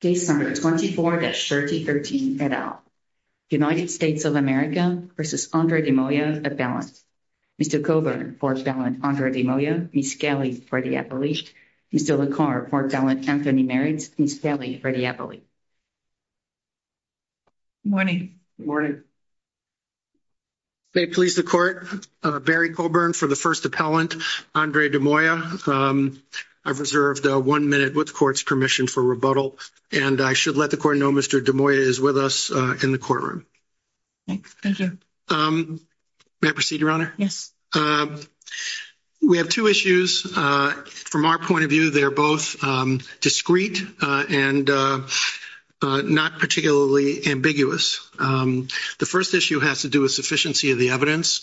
Case No. 24-13 et al. United States of America v. Andre De Moya, Appellant. Mr. Coburn for Appellant Andre De Moya, Ms. Kelley for the Appellant. Mr. LaCour for Appellant Anthony Merritt, Ms. Kelley for the Appellant. Good morning. May it please the Court, Barry Coburn for the First Appellant Andre De Moya. I've reserved one minute with the Court's permission for rebuttal, and I should let the Court know Mr. De Moya is with us in the courtroom. May I proceed, Your Honor? Yes. We have two issues. From our point of view, they are both discreet and not particularly ambiguous. The first issue has to do with sufficiency of the evidence.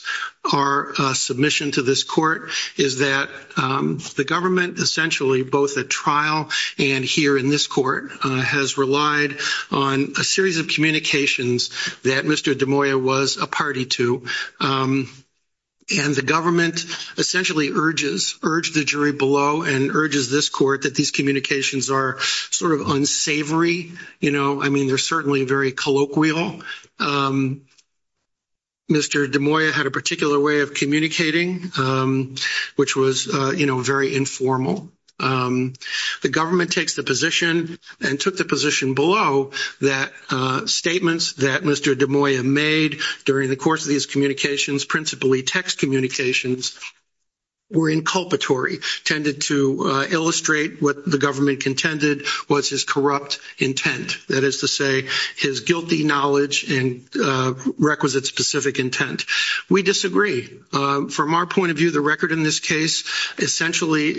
Our submission to this Court is that the government essentially, both at trial and here in this Court, has relied on a series of communications that Mr. De Moya was a party to. And the government essentially urges the jury below and urges this Court that these communications are sort of unsavory. You know, I mean, they're certainly very colloquial. Mr. De Moya had a particular way of communicating, which was, you know, very informal. The government takes the position and took the position below that statements that Mr. De Moya made during the course of these communications, principally text communications, were inculpatory, tended to illustrate what the government contended was his corrupt intent. That is to say, his guilty knowledge and requisite specific intent. We disagree. From our point of view, the record in this case essentially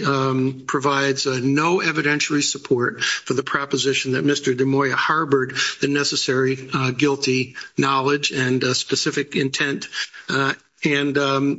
provides no evidentiary support for the proposition that Mr. De Moya harbored the necessary guilty knowledge and specific intent. And,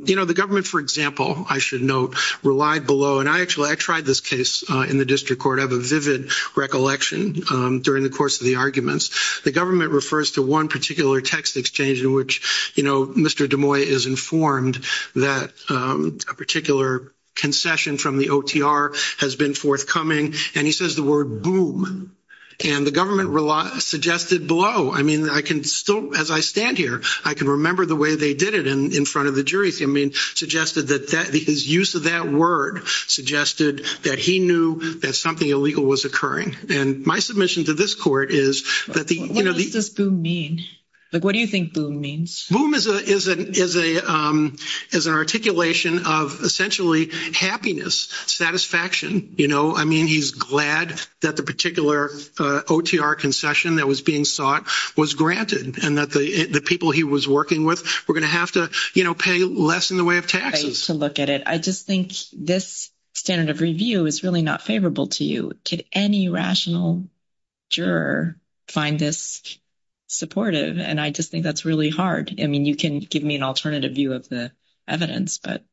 you know, the government, for example, I should note, relied below. And I actually, I tried this case in the district court. I have a vivid recollection during the course of the arguments. The government refers to one particular text exchange in which, you know, Mr. De Moya is informed that a particular concession from the OTR has been forthcoming. And he says the word, boom. And the government suggested below. I mean, I can still, as I stand here, I can remember the way they did it in front of the jury. I mean, suggested that his use of that word suggested that he knew that something illegal was occurring. And my submission to this court is that the, you know. What does boom mean? Like, what do you think boom means? Boom is an articulation of essentially happiness, satisfaction, you know. I mean, he's glad that the particular OTR concession that was being sought was granted. And that the people he was working with were going to have to, you know, pay less in the way of taxes. I hate to look at it. I just think this standard of review is really not favorable to you. Could any rational juror find this supportive? And I just think that's really hard. I mean, you can give me an alternative view of the evidence. But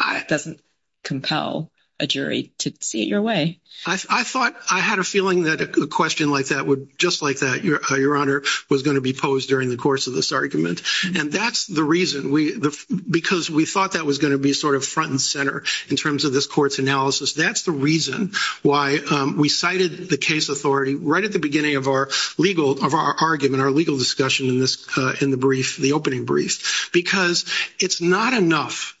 it doesn't compel a jury to see it your way. I thought I had a feeling that a question like that would, just like that, Your Honor, was going to be posed during the course of this argument. And that's the reason. Because we thought that was going to be sort of front and center in terms of this court's analysis. That's the reason why we cited the case authority right at the beginning of our legal argument, our legal discussion in the brief, the opening brief. Because it's not enough,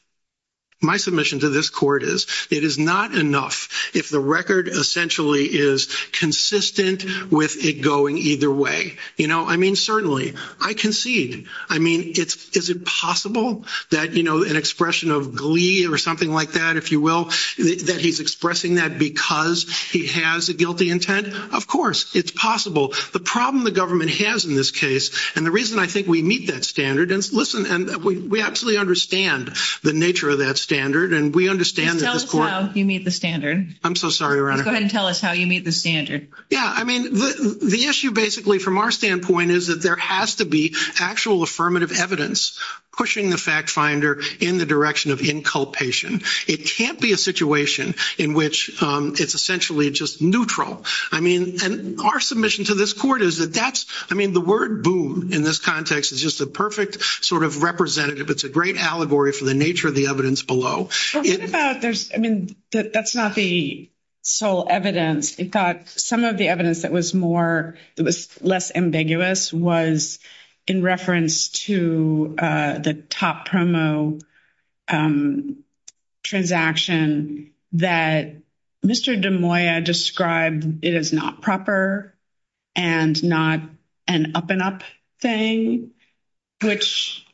my submission to this court is, it is not enough if the record essentially is consistent with it going either way. You know, I mean, certainly, I concede. I mean, is it possible that, you know, an expression of glee or something like that, if you will, that he's expressing that because he has a guilty intent? Of course, it's possible. The problem the government has in this case, and the reason I think we meet that standard, and listen, we absolutely understand the nature of that standard, and we understand that this court. Tell us how you meet the standard. I'm so sorry, Your Honor. Go ahead and tell us how you meet the standard. Yeah, I mean, the issue basically from our standpoint is that there has to be actual affirmative evidence pushing the fact finder in the direction of inculpation. It can't be a situation in which it's essentially just neutral. I mean, and our submission to this court is that that's, I mean, the word boon in this context is just a perfect sort of representative. It's a great allegory for the nature of the evidence below. I mean, that's not the sole evidence. I thought some of the evidence that was more, it was less ambiguous was in reference to the top promo transaction that Mr. DeMoya described it as not proper and not an up and up thing, which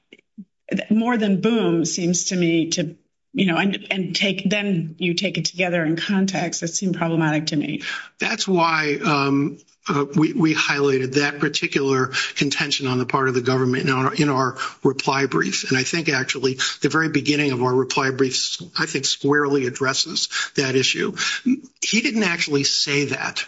more than boon seems to me to, you know, then you take it together in context that seemed problematic to me. That's why we highlighted that particular contention on the part of the government in our reply brief, and I think actually the very beginning of our reply brief I think squarely addresses that issue. He didn't actually say that.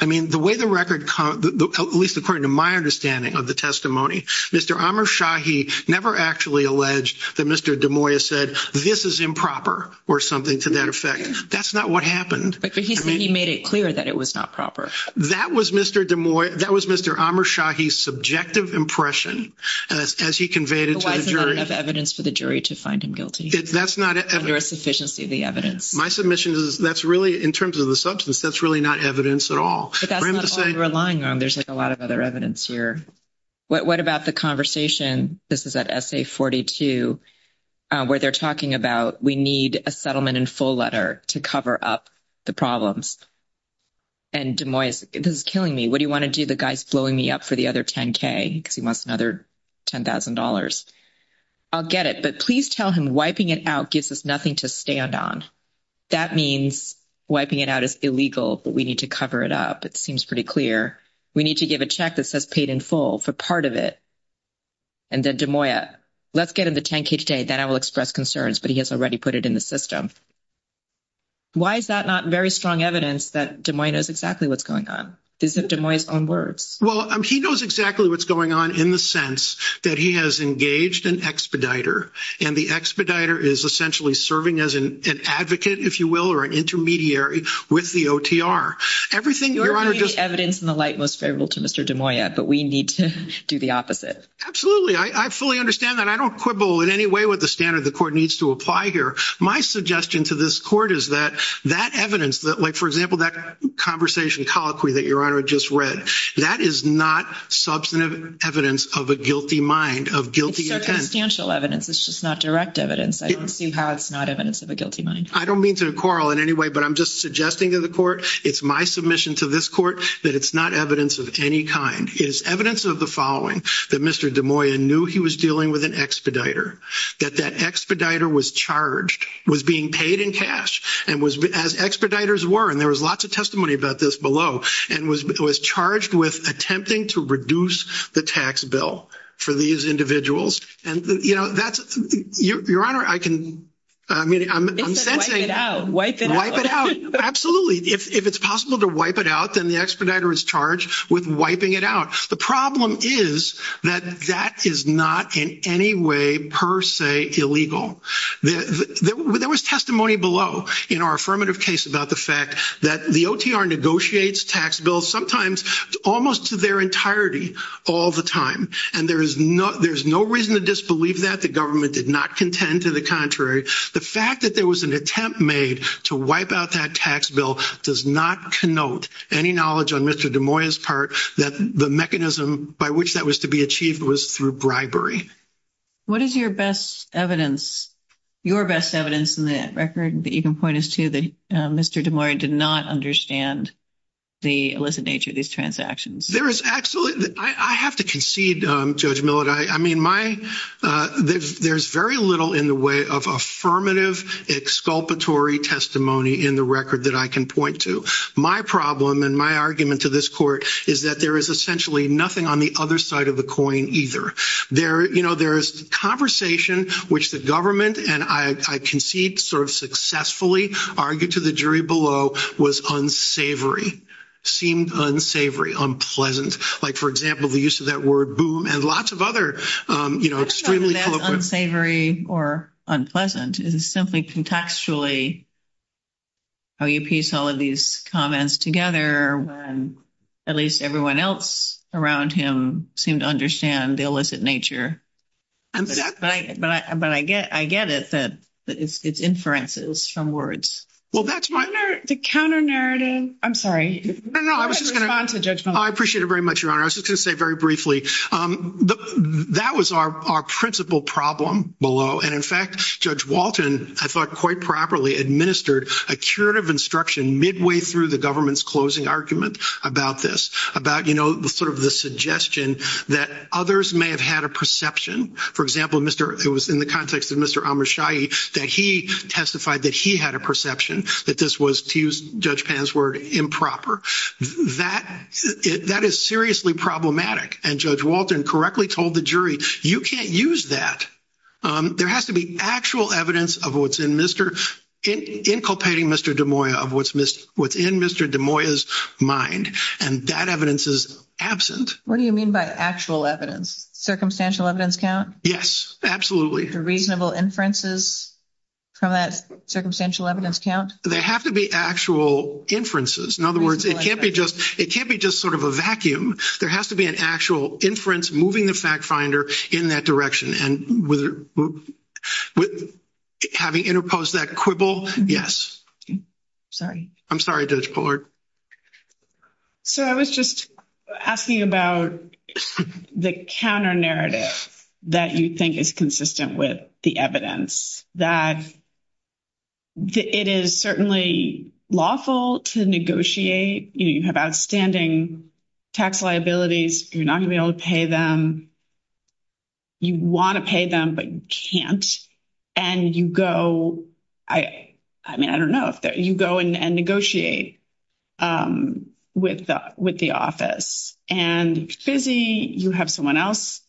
I mean, the way the record, at least according to my understanding of the testimony, Mr. Amershahi never actually alleged that Mr. DeMoya said this is improper or something to that effect. That's not what happened. But he made it clear that it was not proper. That was Mr. DeMoya, that was Mr. Amershahi's subjective impression as he conveyed it to the jury. Why is there not enough evidence for the jury to find him guilty? That's not evidence. Is there a sufficiency of the evidence? My submission is that's really, in terms of the substance, that's really not evidence at all. But that's not all you're relying on. There's a lot of other evidence here. What about the conversation, this is at essay 42, where they're talking about we need a settlement in full letter to cover up the problems. And DeMoya is telling me, what do you want to do? The guy's blowing me up for the other 10K because he wants another $10,000. I'll get it, but please tell him wiping it out gives us nothing to stand on. That means wiping it out is illegal, but we need to cover it up. It seems pretty clear. We need to give a check that says paid in full for part of it. And then DeMoya, let's get him the 10K today. Then I will express concerns, but he has already put it in the system. Why is that not very strong evidence that DeMoya knows exactly what's going on? This is DeMoya's own words. Well, he knows exactly what's going on in the sense that he has engaged an expediter, and the expediter is essentially serving as an advocate, if you will, or an intermediary with the OTR. You're giving the evidence in the light most favorable to Mr. DeMoya, but we need to do the opposite. Absolutely. I fully understand that. I don't quibble in any way with the standard the court needs to apply here. My suggestion to this court is that that evidence, like, for example, that conversation colloquy that Your Honor just read, that is not substantive evidence of a guilty mind, of guilty intent. It's not substantial evidence. It's just not direct evidence. I don't see how it's not evidence of a guilty mind. I don't mean to quarrel in any way, but I'm just suggesting to the court it's my submission to this court that it's not evidence of any kind. It's evidence of the following, that Mr. DeMoya knew he was dealing with an expediter, that that expediter was charged, was being paid in cash, and was, as expediters were, and there was lots of testimony about this below, and was charged with attempting to reduce the tax bill for these individuals. And, you know, that's, Your Honor, I can, I mean, I'm sensing. Wipe it out. Wipe it out. Absolutely. If it's possible to wipe it out, then the expediter is charged with wiping it out. The problem is that that is not in any way per se illegal. There was testimony below in our affirmative case about the fact that the OTR negotiates tax bills sometimes almost to their entirety all the time, and there is no reason to disbelieve that. The government did not contend to the contrary. The fact that there was an attempt made to wipe out that tax bill does not connote any knowledge on Mr. DeMoya's part that the mechanism by which that was to be achieved was through bribery. What is your best evidence, your best evidence in the record, that you can point us to that Mr. DeMoya did not understand the illicit nature of these transactions? There is absolutely, I have to concede, Judge Millard. There's very little in the way of affirmative exculpatory testimony in the record that I can point to. My problem and my argument to this court is that there is essentially nothing on the other side of the coin either. There is conversation which the government, and I concede sort of successfully argued to the jury below, was unsavory, seemed unsavory, unpleasant. Like, for example, the use of that word boom and lots of other, you know, extremely eloquent. Unsavory or unpleasant is simply contextually how you piece all of these comments together when at least everyone else around him seemed to understand the illicit nature. But I get it that it's inferences from words. Well, that's my narrative. The counter-narrative, I'm sorry. I appreciate it very much, Your Honor. I was just going to say very briefly, that was our principal problem below. And, in fact, Judge Walton, I thought quite properly, administered a curative instruction midway through the government's closing argument about this, about, you know, sort of the suggestion that others may have had a perception. For example, it was in the context of Mr. Amrishai that he testified that he had a perception that this was, to use Judge Pan's word, improper. That is seriously problematic. And Judge Walton correctly told the jury, you can't use that. There has to be actual evidence of what's in Mr.—inculpating Mr. DeMoya, of what's in Mr. DeMoya's mind. And that evidence is absent. What do you mean by actual evidence? Circumstantial evidence count? Yes, absolutely. Reasonable inferences from that circumstantial evidence count? There has to be actual inferences. In other words, it can't be just sort of a vacuum. There has to be an actual inference moving the fact finder in that direction. And having interposed that quibble, yes. Sorry. I'm sorry, Judge Bullard. So I was just asking about the counter-narrative that you think is consistent with the evidence, that it is certainly lawful to negotiate. You have outstanding tax liabilities. You're not going to be able to pay them. You want to pay them, but you can't. And you go—I mean, I don't know. You go and negotiate with the office. And it's busy. You have someone else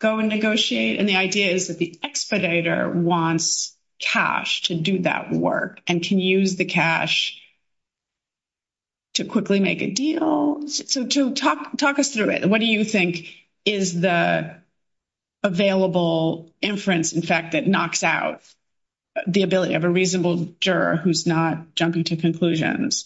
go and negotiate. And the idea is that the expediter wants cash to do that work and can use the cash to quickly make a deal. So talk us through it. What do you think is the available inference, in fact, that knocks out the ability of a reasonable juror who's not jumping to conclusions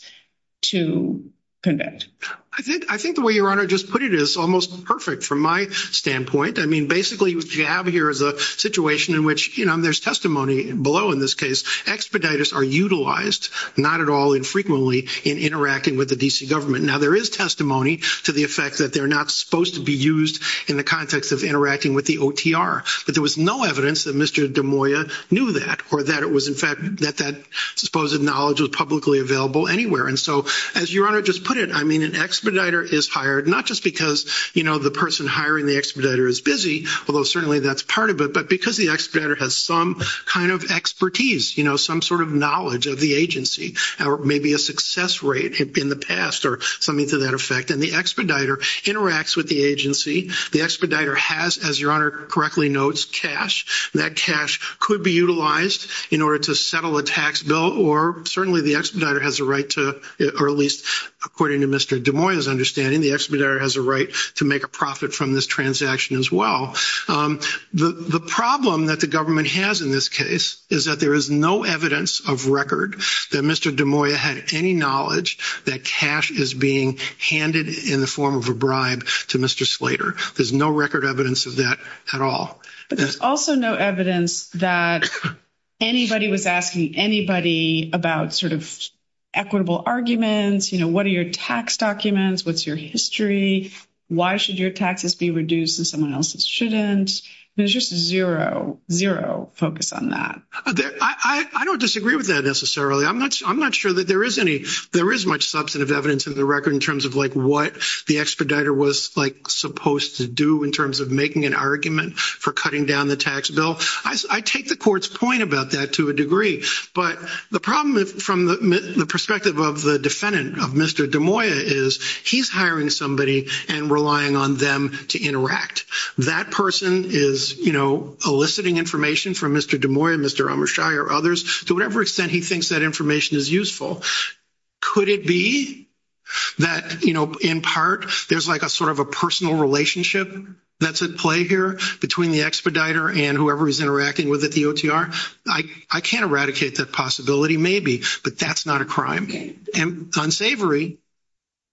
to convict? I think the way Your Honor just put it is almost perfect from my standpoint. I mean, basically what you have here is a situation in which, you know, and there's testimony below in this case, expediters are utilized, not at all infrequently, in interacting with the D.C. government. Now, there is testimony to the effect that they're not supposed to be used in the context of interacting with the OTR. But there was no evidence that Mr. DeMoya knew that or that it was, in fact, that that supposed knowledge was publicly available anywhere. And so, as Your Honor just put it, I mean, an expediter is hired not just because, you know, the person hiring the expediter is busy, although certainly that's part of it, but because the expediter has some kind of expertise, you know, some sort of knowledge of the agency or maybe a success rate in the past or something to that effect. And the expediter interacts with the agency. The expediter has, as Your Honor correctly notes, cash. That cash could be utilized in order to settle a tax bill, or certainly the expediter has a right to, or at least according to Mr. DeMoya's understanding, the expediter has a right to make a profit from this transaction as well. The problem that the government has in this case is that there is no evidence of record that Mr. DeMoya had any knowledge that cash is being handed in the form of a bribe to Mr. Slater. There's no record evidence of that at all. There's also no evidence that anybody was asking anybody about sort of equitable arguments, you know, what are your tax documents, what's your history, why should your taxes be reduced and someone else's shouldn't. There's just zero, zero focus on that. I don't disagree with that necessarily. I'm not sure that there is any. There is much substantive evidence of the record in terms of, like, what the expediter was, like, supposed to do in terms of making an argument for cutting down the tax bill. I take the court's point about that to a degree, but the problem from the perspective of the defendant, of Mr. DeMoya, is he's hiring somebody and relying on them to interact. That person is, you know, eliciting information from Mr. DeMoya, Mr. Amrishai, or others. To whatever extent he thinks that information is useful. Could it be that, you know, in part, there's like a sort of a personal relationship that's at play here between the expediter and whoever he's interacting with at the OTR? I can't eradicate that possibility, maybe, but that's not a crime. It's unsavory,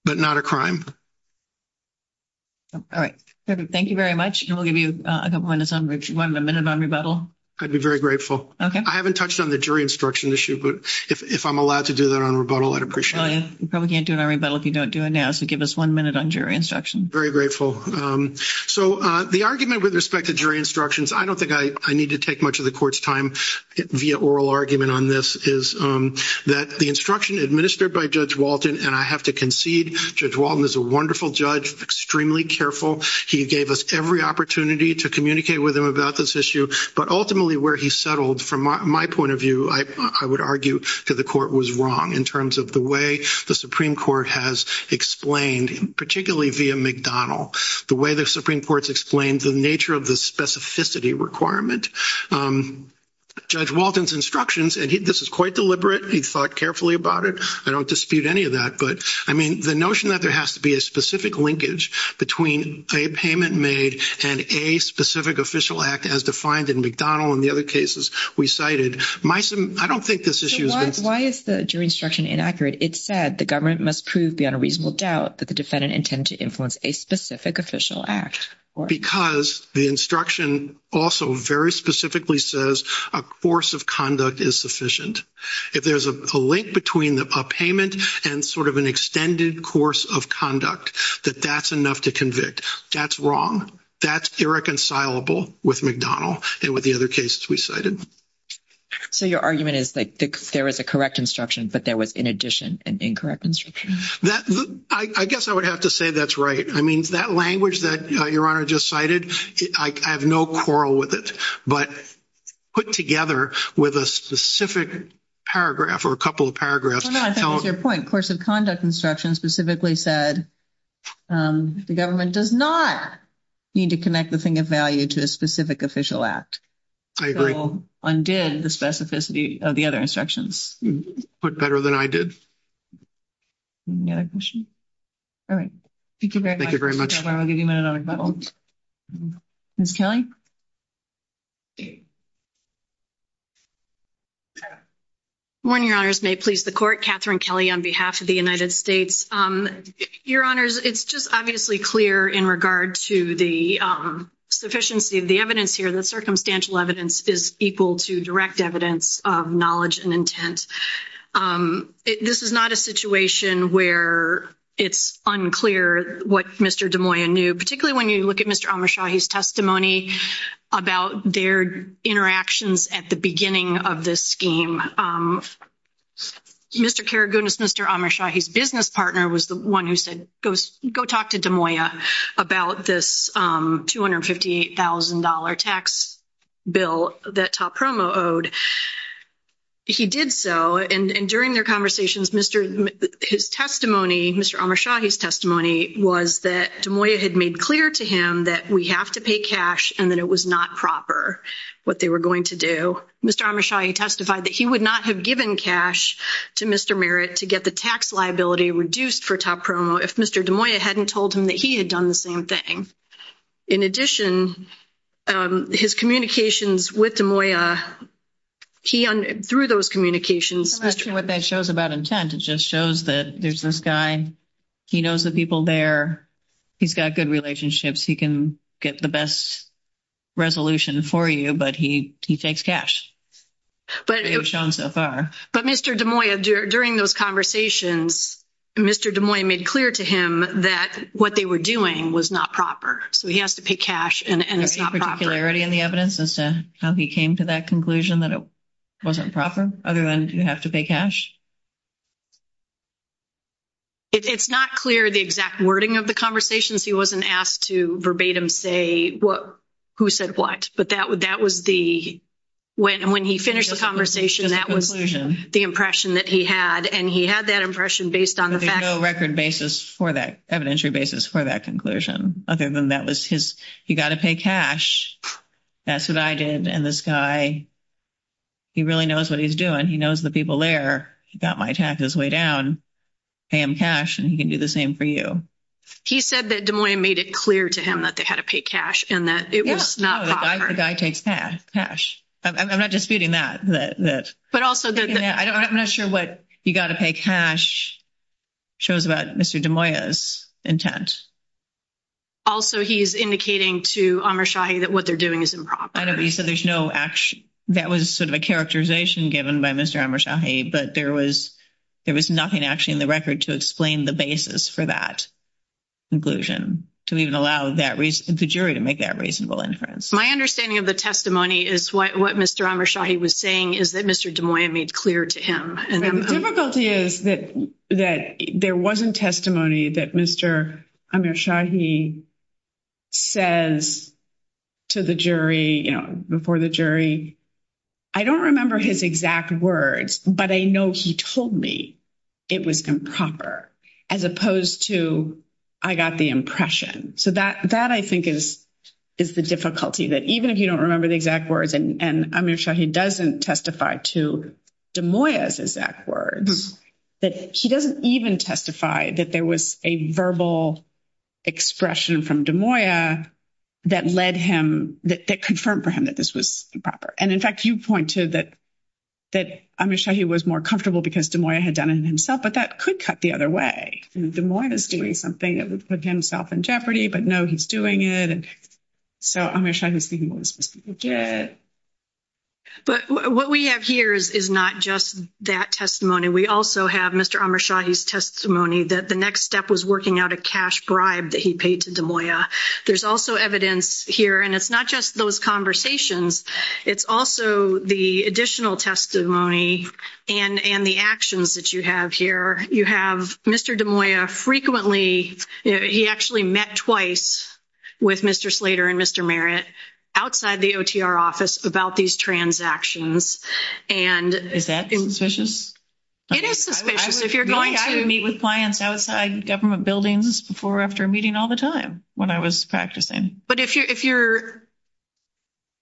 but not a crime. All right. Thank you very much, and we'll give you a couple of minutes on rebuttal. I'd be very grateful. Okay. I haven't touched on the jury instruction issue, but if I'm allowed to do that on rebuttal, I'd appreciate it. You probably can't do it on rebuttal if you don't do it now, so give us one minute on jury instruction. Very grateful. So the argument with respect to jury instructions, I don't think I need to take much of the court's time via oral argument on this, is that the instruction administered by Judge Walton, and I have to concede Judge Walton is a wonderful judge, extremely careful, he gave us every opportunity to communicate with him about this issue, but ultimately where he settled, from my point of view, I would argue to the court, was wrong in terms of the way the Supreme Court has explained, particularly via McDonnell, the way the Supreme Court's explained the nature of the specificity requirement. Judge Walton's instructions, and this is quite deliberate, he thought carefully about it, I don't dispute any of that, but, I mean, the notion that there has to be a specific linkage between a payment made and a specific official act as defined in McDonnell and the other cases we cited, I don't think this issue is- Why is the jury instruction inaccurate? It said the government must prove beyond a reasonable doubt that the defendant intended to influence a specific official act. Because the instruction also very specifically says a course of conduct is sufficient. If there's a link between a payment and sort of an extended course of conduct, that that's enough to convict. That's wrong. That's irreconcilable with McDonnell and with the other cases we cited. So your argument is that there is a correct instruction, but there was, in addition, an incorrect instruction? I guess I would have to say that's right. I mean, that language that Your Honor just cited, I have no quarrel with it, but put together with a specific paragraph or a couple of paragraphs- The government does not need to connect the thing of value to a specific official act. I agree. So undid the specificity of the other instructions. But better than I did. Any other questions? All right. Thank you very much. Thank you very much. Ms. Kelly? Good morning, Your Honors. May it please the Court, Catherine Kelly on behalf of the United States. Your Honors, it's just obviously clear in regard to the sufficiency of the evidence here. The circumstantial evidence is equal to direct evidence of knowledge and intent. This is not a situation where it's unclear what Mr. Des Moines knew, particularly when you look at Mr. Amershahi's testimony about their interactions at the beginning of this scheme. Mr. Karagounis, Mr. Amershahi's business partner, was the one who said, go talk to Des Moines about this $258,000 tax bill that Top Promo owed. He did so. And during their conversations, his testimony, Mr. Amershahi's testimony, was that Des Moines had made clear to him that we have to pay cash and that it was not proper what they were going to do. So Mr. Amershahi testified that he would not have given cash to Mr. Merritt to get the tax liability reduced for Top Promo if Mr. Des Moines hadn't told him that he had done the same thing. In addition, his communications with Des Moines, through those communications- That's true. What that shows about intent, it just shows that there's this guy. He knows the people there. He's got good relationships. He can get the best resolution for you, but he takes cash, as we've shown so far. But Mr. Des Moines, during those conversations, Mr. Des Moines made clear to him that what they were doing was not proper. So he has to pay cash, and it's not proper. Is there any particularity in the evidence as to how he came to that conclusion, that it wasn't proper, other than you have to pay cash? It's not clear the exact wording of the conversations. He wasn't asked to verbatim say who said what, but that was the- When he finished the conversation, that was the impression that he had, and he had that impression based on the fact that- There's no record basis for that, evidentiary basis for that conclusion, other than that was he's got to pay cash. That's what I did, and this guy, he really knows what he's doing. He knows the people there. He got my tax this way down. Pay him cash, and he can do the same for you. He said that Des Moines made it clear to him that they had to pay cash, and that it was not proper. No, the guy takes cash. I'm not disputing that. But also- I'm not sure what you got to pay cash shows about Mr. Des Moines' intent. Also, he's indicating to Amar Shahi that what they're doing is improper. I know, but he said there's no- That was sort of a characterization given by Mr. Amar Shahi, but there was nothing actually in the record to explain the basis for that conclusion to even allow the jury to make that reasonable inference. My understanding of the testimony is what Mr. Amar Shahi was saying is that Mr. Des Moines made clear to him. The difficulty is that there wasn't testimony that Mr. Amar Shahi says to the jury, you know, before the jury. I don't remember his exact words, but I know he told me it was improper, as opposed to I got the impression. So that, I think, is the difficulty, that even if you don't remember the exact words, and Amar Shahi doesn't testify to Des Moines' exact words, that he doesn't even testify that there was a verbal expression from Des Moines that led him, that confirmed for him that this was improper. And, in fact, you point to that Amar Shahi was more comfortable because Des Moines had done it himself, but that could cut the other way. Des Moines is doing something that would put himself in jeopardy, but no, he's doing it, and so Amar Shahi was speaking what was specific to it. But what we have here is not just that testimony. We also have Mr. Amar Shahi's testimony that the next step was working out a cash bribe that he paid to Des Moines. There's also evidence here, and it's not just those conversations. It's also the additional testimony and the actions that you have here. You have Mr. Des Moines frequently, he actually met twice with Mr. Slater and Mr. Merritt outside the OTR office about these transactions. Is that suspicious? It is suspicious. If you're going to meet with clients outside government buildings before or after a meeting all the time, when I was practicing. But if you're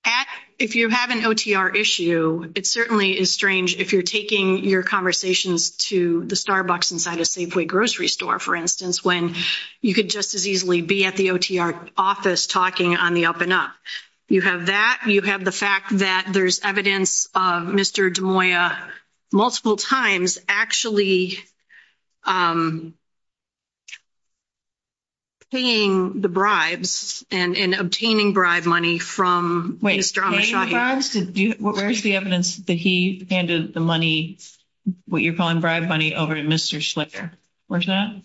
at, if you have an OTR issue, it certainly is strange if you're taking your conversations to the Starbucks inside a Safeway grocery store, for instance, when you could just as easily be at the OTR office talking on the up and up. You have that, you have the fact that there's evidence of Mr. Des Moines multiple times actually paying the bribes and obtaining bribe money from Mr. Amar Shahi. Wait, paying bribes? Where's the evidence that he handed the money, what you're calling bribe money, over to Mr. Slater? Where's that?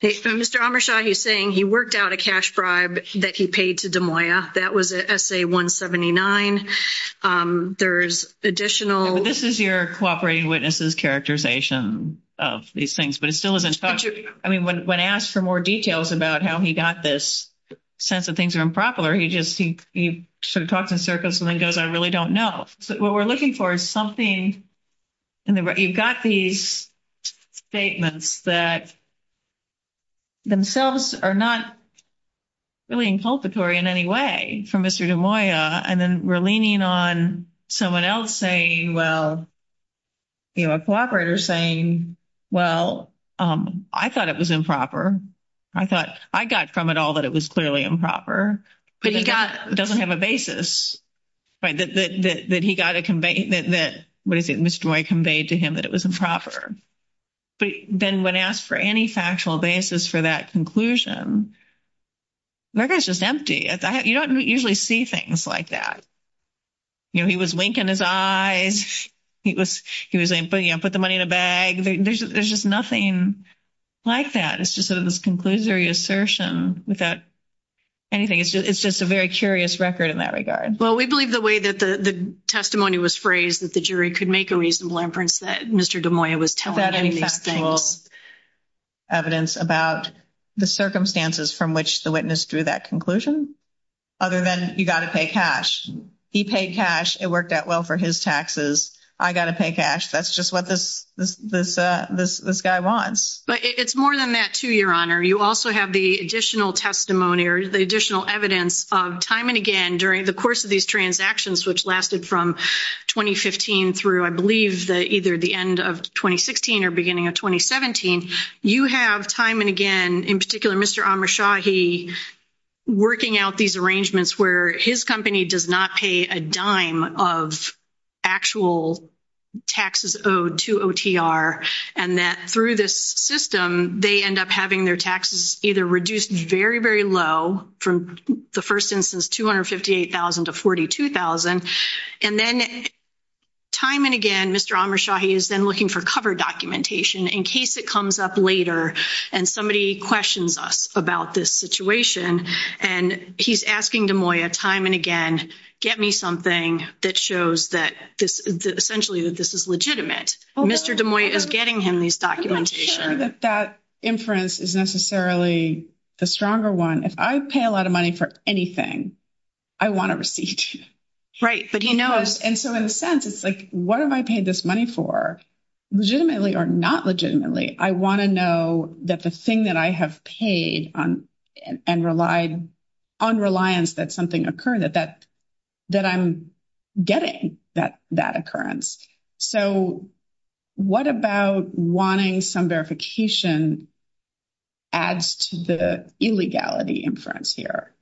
Mr. Amar Shahi is saying he worked out a cash bribe that he paid to Des Moines. That was at SA-179. There's additional... This is your cooperating witnesses characterization of these things, but it still hasn't... I mean, when asked for more details about how he got this sense that things are improper, he just, he sort of talks in circles and then goes, I really don't know. What we're looking for is something, you've got these statements that themselves are not really inculpatory in any way for Mr. Des Moines, and then we're leaning on someone else saying, well, you know, a cooperator saying, well, I thought it was improper. I thought I got from it all that it was clearly improper. But he doesn't have a basis that he got a... that Mr. Des Moines conveyed to him that it was improper. But then when asked for any factual basis for that conclusion, the record's just empty. You don't usually see things like that. You know, he was winking his eyes. He was putting, you know, put the money in a bag. There's just nothing like that. It's just sort of this conclusory assertion without anything. It's just a very curious record in that regard. Well, we believe the way that the testimony was phrased, we believe that the jury could make a reasonable inference that Mr. Des Moines was telling these things. That is factual evidence about the circumstances from which the witness drew that conclusion, other than you got to pay cash. He paid cash. It worked out well for his taxes. I got to pay cash. That's just what this guy wants. But it's more than that, too, Your Honor. You also have the additional testimony or the additional evidence of time and again during the course of these transactions, which lasted from 2015 through, I believe, either the end of 2016 or beginning of 2017, you have time and again, in particular, Mr. Amrshahi working out these arrangements where his company does not pay a dime of actual taxes owed to OTR, and that through this system they end up having their taxes either reduced very, very low from the first instance, $258,000 to $42,000. And then time and again, Mr. Amrshahi is then looking for cover documentation in case it comes up later and somebody questions us about this situation, and he's asking Des Moines time and again, get me something that shows that essentially that this is legitimate. Mr. Des Moines is getting him this documentation. I'm not sure that that inference is necessarily the stronger one. If I pay a lot of money for anything, I want a receipt. Right, but he knows. And so in a sense, it's like, what have I paid this money for, legitimately or not legitimately? I want to know that the thing that I have paid and relied on reliance that something occurred, that I'm getting that occurrence. So what about wanting some verification adds to the illegality inference here?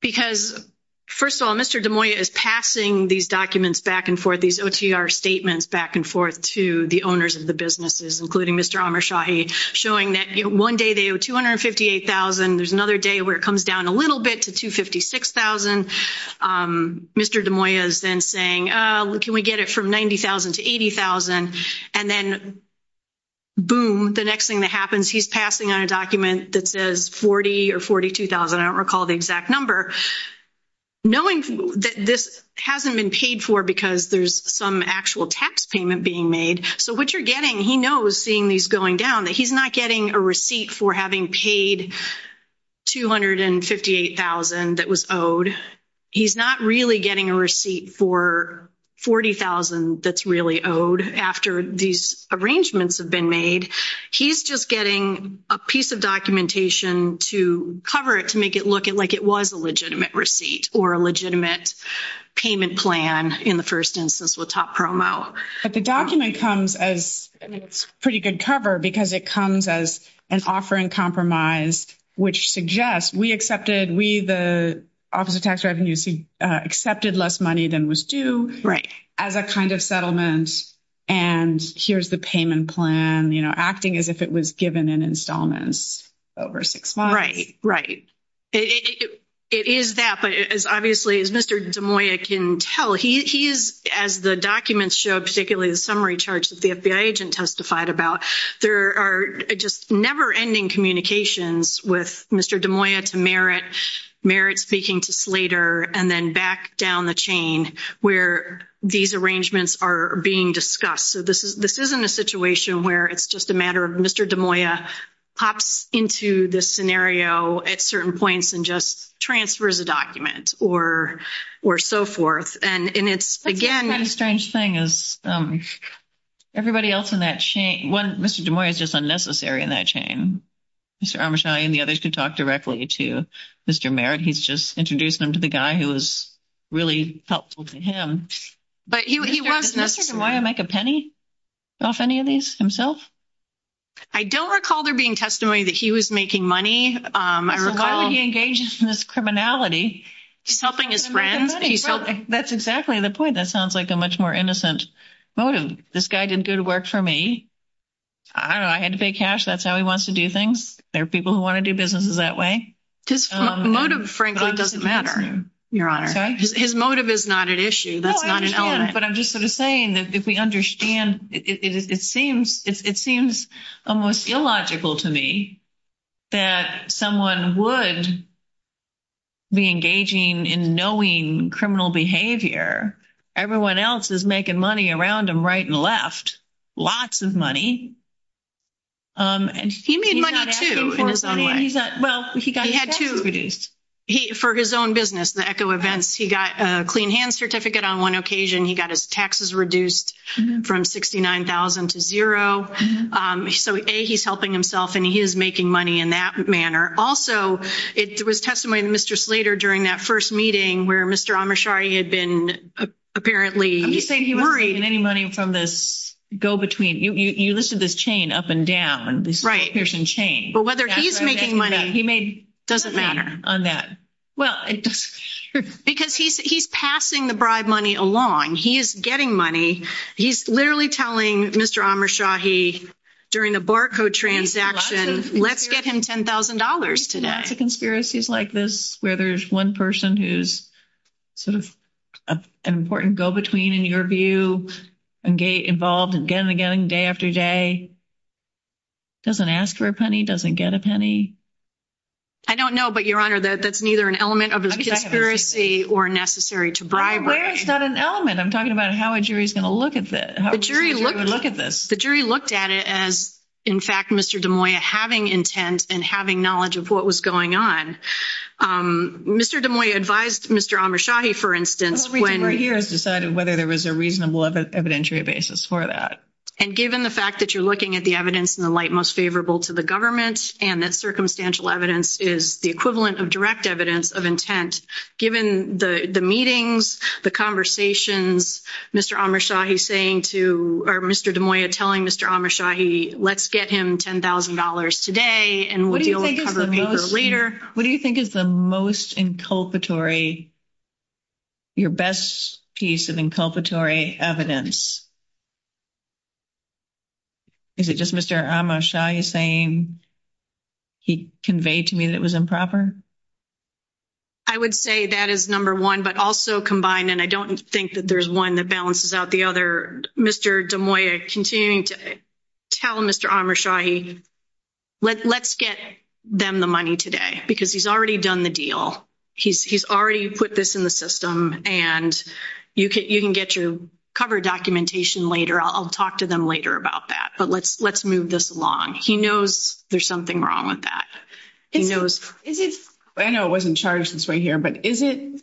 Because first of all, Mr. Des Moines is passing these documents back and forth, these OTR statements back and forth to the owners of the businesses, including Mr. Amrshahi, showing that one day they owe $258,000. There's another day where it comes down a little bit to $256,000. Mr. Des Moines then saying, can we get it from $90,000 to $80,000? And then boom, the next thing that happens, he's passing on a document that says $40,000 or $42,000. I don't recall the exact number. Knowing that this hasn't been paid for because there's some actual tax payment being made, so what you're getting, he knows seeing these going down that he's not getting a receipt for having paid $258,000 that was owed. He's not really getting a receipt for $40,000 that's really owed after these arrangements have been made. He's just getting a piece of documentation to cover it, to make it look like it was a legitimate receipt or a legitimate payment plan in the first instance with top promo. But the document comes as pretty good cover because it comes as an offering compromise, which suggests we accepted, we the Office of Tax Revenue, accepted less money than was due as a kind of settlement. And here's the payment plan, acting as if it was given in installments over six months. Right, right. It is that, but as obviously as Mr. Des Moines can tell, he's as the documents show, particularly the summary charges the FBI agent testified about, there are just never ending communications with Mr. Des Moines to Merritt, Merritt speaking to Slater, and then back down the chain where these arrangements are being discussed. So this isn't a situation where it's just a matter of Mr. Des Moines pops into this scenario at certain points and just transfers a document or so forth. The strange thing is everybody else in that chain, one Mr. Des Moines is just unnecessary in that chain. Mr. Armachai and the others can talk directly to Mr. Merritt. He's just introduced them to the guy who was really helpful to him. But he wasn't necessary. Why would he make a penny off any of these himself? I don't recall there being testimony that he was making money. While he engages in this criminality, he's helping his friends. That's exactly the point. That sounds like a much more innocent motive. This guy didn't do the work for me. I don't know. I had to pay cash. That's how he wants to do things. There are people who want to do businesses that way. His motive frankly doesn't matter, Your Honor. His motive is not an issue. But I'm just sort of saying that if we understand it, it seems, it seems almost illogical to me that someone would be engaging in knowing criminal behavior. Everyone else is making money around him right and left. Lots of money. He made money, too. Well, he got his taxes reduced. For his own business, the Echo Events, he got a clean hands certificate on one occasion. He got his taxes reduced from 69,000 to zero. So, A, he's helping himself, and he is making money in that manner. Also, it was testimony to Mr. Slater during that first meeting where Mr. Amashari had been apparently worried. He's not making any money from this go between. You listed this chain up and down, this piercing chain. Right. But whether he's making money, he made money on that. Because he's passing the bribe money along. He's getting money. He's literally telling Mr. Amashari during the barcode transaction, let's get him $10,000 today. The conspiracies like this where there's one person who's sort of an important go between, in your view, involved again and again, day after day, doesn't ask for a penny, doesn't get a penny. I don't know. But, Your Honor, that's neither an element of a conspiracy or necessary to bribe money. Where is that an element? I'm talking about how a jury is going to look at this. The jury looked at it as, in fact, Mr. DeMoya having intent and having knowledge of what was going on. Mr. DeMoya advised Mr. Amashari, for instance, when he was deciding whether there was a reasonable evidentiary basis for that. And given the fact that you're looking at the evidence in the light most equivalent of direct evidence of intent, given the meetings, the conversations Mr. Amashari is saying to, or Mr. DeMoya telling Mr. Amashari, let's get him $10,000 today. And what do you think is the most inculpatory, your best piece of inculpatory evidence? Is it just Mr. Amashari saying he conveyed to me that it was improper? I would say that is number one, but also combined. And I don't think that there's one that balances out the other. Mr. DeMoya continuing to tell Mr. Amashari, let's get them the money today because he's already done the deal. He's already put this in the system and you can, you can get your cover documentation later. I'll talk to them later about that, but let's, let's move this along. He knows there's something wrong with that. I know it wasn't charged this way here, but is it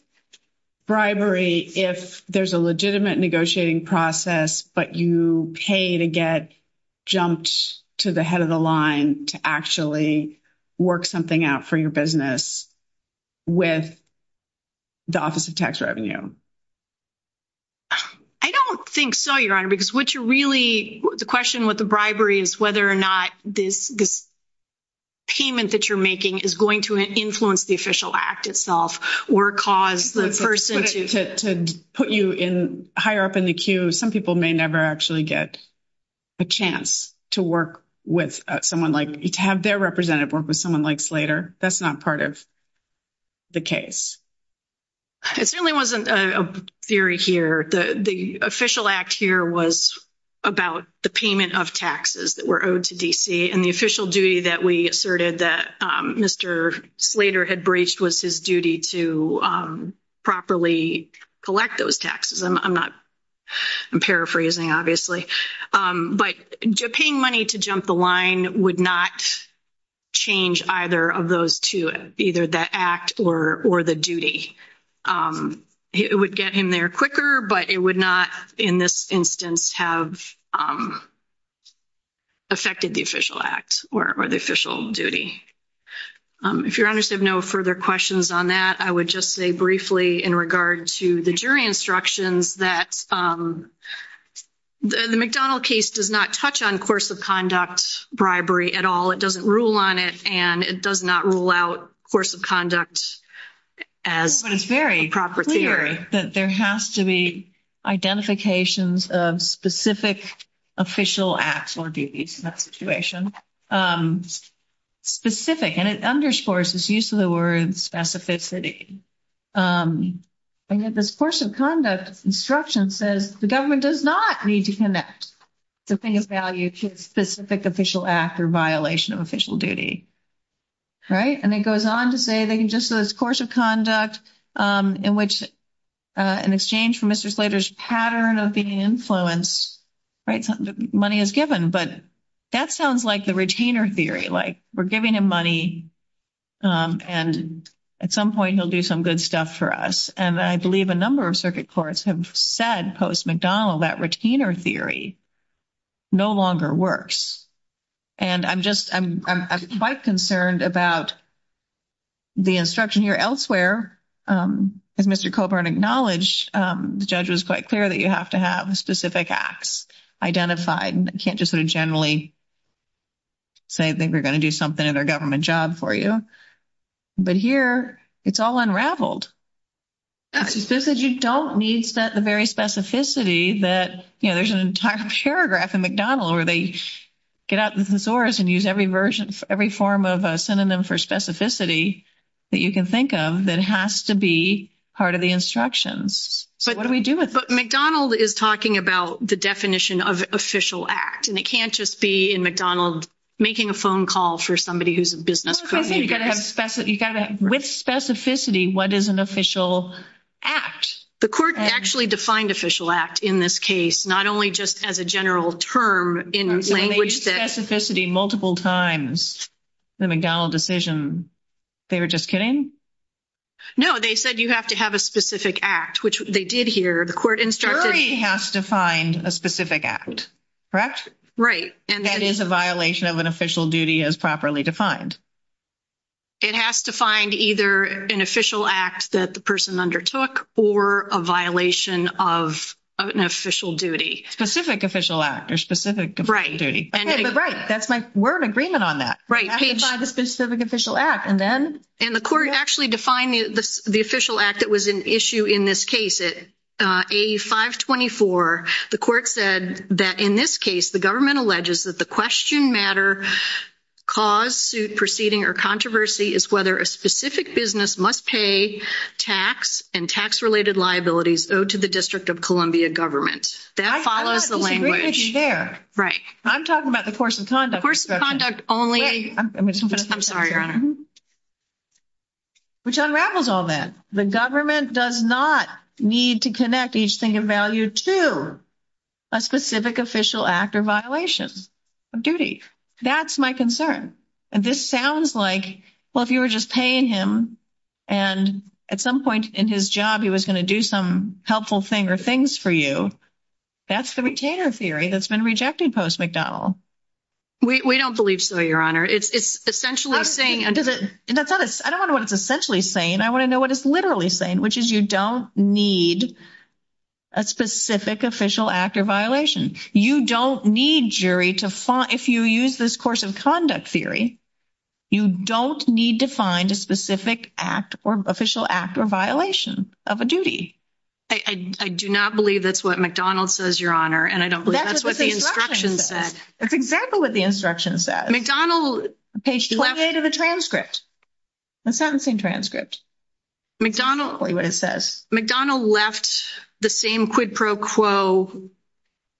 bribery if there's a legitimate negotiating process, but you pay to get jumped to the head of the line to actually work something out for your business with the office of tax revenue? I don't think so, Your Honor, because what you really, the question with the bribery is whether or not this payment that you're making is going to influence the official act itself or cause the person. To put you in higher up in the queue, some people may never actually get a chance to work with someone like, to have their representative work with someone like Slater. That's not part of the case. It certainly wasn't a theory here. The official act here was about the payment of taxes that were owed to DC and the official duty that we asserted that Mr. Slater had breached was his duty to properly collect those taxes. I'm not, I'm paraphrasing obviously, but paying money to jump the line would not change either of those two, either the act or the duty. It would get him there quicker, but it would not, in this instance, have affected the official act or the official duty. If you're honest, I have no further questions on that. I would just say briefly in regard to the jury instructions that the McDonald case does not touch on course of conduct bribery at all. It doesn't rule on it and it does not rule out course of conduct as the proper theory. But it's very clear that there has to be identifications of specific official acts or duties in that situation. Specific, and it underscores this use of the word specificity. And that this course of conduct instruction says the government does not need to connect the thing of value to a specific official act or violation of official duty. Right? And it goes on to say that just this course of conduct in which in exchange for Mr. Slater's pattern of being influenced, right, money is given. But that sounds like the retainer theory, like we're giving him money and at some point he'll do some good stuff for us. And I believe a number of circuit courts have said post-McDonald that retainer theory no longer works. And I'm just, I'm quite concerned about the instruction here elsewhere. As Mr. Colburn acknowledged, the judge was quite clear that you have to have specific acts identified. You can't just sort of generally say I think we're going to do something at our government job for you. But here it's all unraveled. It's just that you don't need the very specificity that, you know, there's an entire paragraph in McDonald where they get out the thesaurus and use every version, every form of a synonym for specificity that you can think of that has to be part of the instructions. So what do we do with that? But McDonald is talking about the definition of official act. And it can't just be in McDonald making a phone call for somebody who's a business clerk. With specificity, what is an official act? The court actually defined official act in this case, not only just as a general term in language that... They used specificity multiple times in the McDonald decision. They were just kidding? No, they said you have to have a specific act, which they did here. The court instructed... The jury has to find a specific act, correct? Right. And that is a violation of an official duty as properly defined. It has to find either an official act that the person undertook or a violation of an official duty. Specific official act or specific official duty. Okay, but right. That's like we're in agreement on that. Right. You have to find a specific official act. And then... And the court actually defined the official act that was an issue in this case. At A524, the court said that in this case, the government alleges that the question matter, cause, suit, proceeding, or controversy is whether a specific business must pay tax and tax-related liabilities owed to the District of Columbia government. That follows the language. Right. I'm talking about the force of conduct. The force of conduct only... I'm sorry, Your Honor. Which unravels all that. The government does not need to connect each thing in value to a specific official act or violation of duty. That's my concern. This sounds like, well, if you were just paying him and at some point in his job, he was going to do some helpful thing or things for you, that's the retainer theory that's been rejected post-McDonnell. We don't believe so, Your Honor. It's essentially saying... I don't know what it's essentially saying. I want to know what it's literally saying, which is you don't need a specific official act or violation. You don't need jury to find... If you use this force of conduct theory, you don't need to find a specific act or official act or violation of a duty. I do not believe that's what McDonald says, Your Honor, and I don't believe that's what the instruction said. That's what the instruction said. That's exactly what the instruction said. McDonald... The page just left... It's part of the transcript. That's not the same transcript. McDonald... I'll tell you what it says. McDonald left the same quid pro quo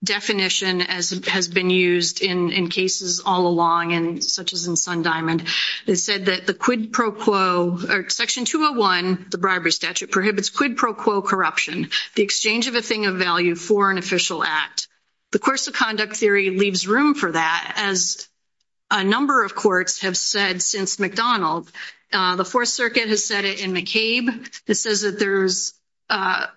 definition as has been used in cases all along, such as in Sundiamond. It said that the quid pro quo... Section 201, the bribery statute, prohibits quid pro quo corruption, the exchange of a thing of value for an official act. The force of conduct theory leaves room for that, as a number of courts have said since McDonald. The Fourth Circuit has said it in McCabe. It says that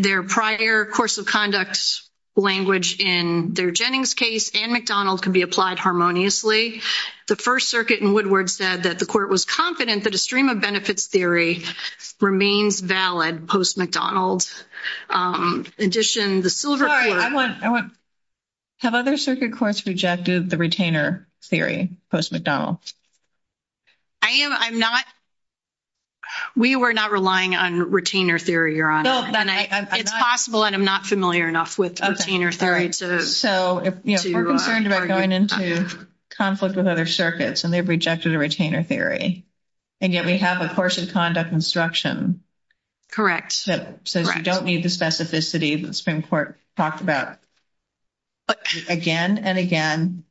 their prior course of conduct language in their Jennings case and McDonald's can be applied harmoniously. The First Circuit in Woodward said that the court was confident that a stream-of-benefits theory remains valid post-McDonald's. In addition, the silver... I want... Have other circuit courts rejected the retainer theory post-McDonald's? I am. I'm not. We were not relying on retainer theory, Your Honor. It's possible, and I'm not familiar enough with retainer theory. So we're concerned about going into conflict with other circuits, and they've rejected a retainer theory, and yet we have a course of conduct instruction. Correct. That says we don't need the specificity that Spring-Court talked about again and again.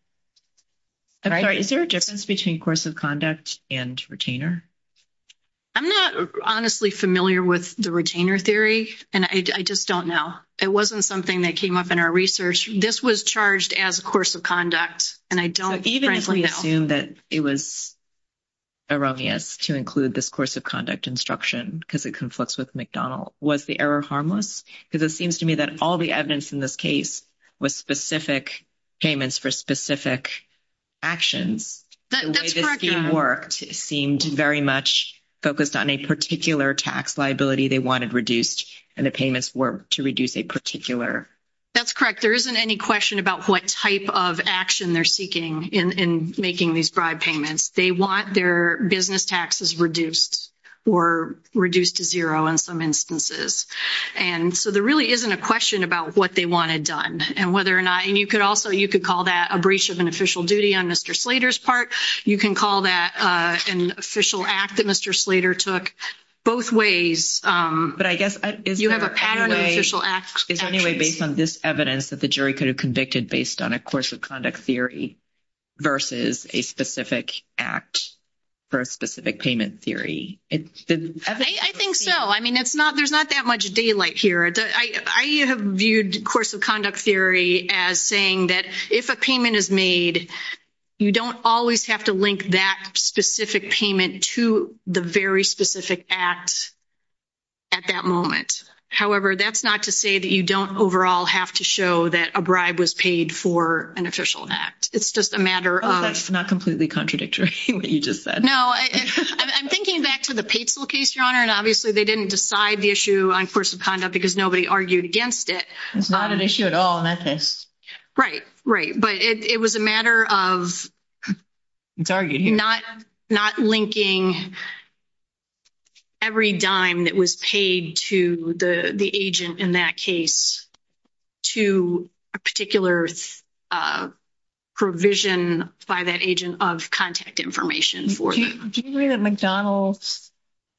I'm sorry. Is there a difference between course of conduct and retainer? I'm not honestly familiar with the retainer theory, and I just don't know. It wasn't something that came up in our research. This was charged as a course of conduct, and I don't frankly know. But even if we assume that it was erroneous to include this course of conduct instruction because it conflicts with McDonald's, was the error harmless? Because it seems to me that all the evidence in this case was specific payments for specific actions. It seemed very much focused on a particular tax liability they wanted reduced, and the payments were to reduce a particular. That's correct. There isn't any question about what type of action they're seeking in making these bribe payments. They want their business taxes reduced or reduced to zero in some instances. And so there really isn't a question about what they want done and whether or not. And you could also, you could call that a breach of an official duty on Mr. Slater's part. You can call that an official act that Mr. Slater took. Both ways. But I guess is there any way. You have a pat on the official act. Is there any way based on this evidence that the jury could have convicted based on a course of conduct theory versus a specific act for a specific payment theory? I think so. I mean, it's not, there's not that much daylight here. I have viewed course of conduct theory as saying that if a payment is made, you don't always have to link that specific payment to the very specific act at that moment. However, that's not to say that you don't overall have to show that a bribe was paid for an official act. It's just a matter of. That's not completely contradictory to what you just said. No, I'm thinking back to the Patesville case, Your Honor, and obviously they didn't decide the issue on course of conduct because nobody argued against it. It's not an issue at all in that case. Right. Right. But it was a matter of not linking every dime that was paid to the agent in that case to a particular provision by that agent of contact information for them. Do you agree that McDonald's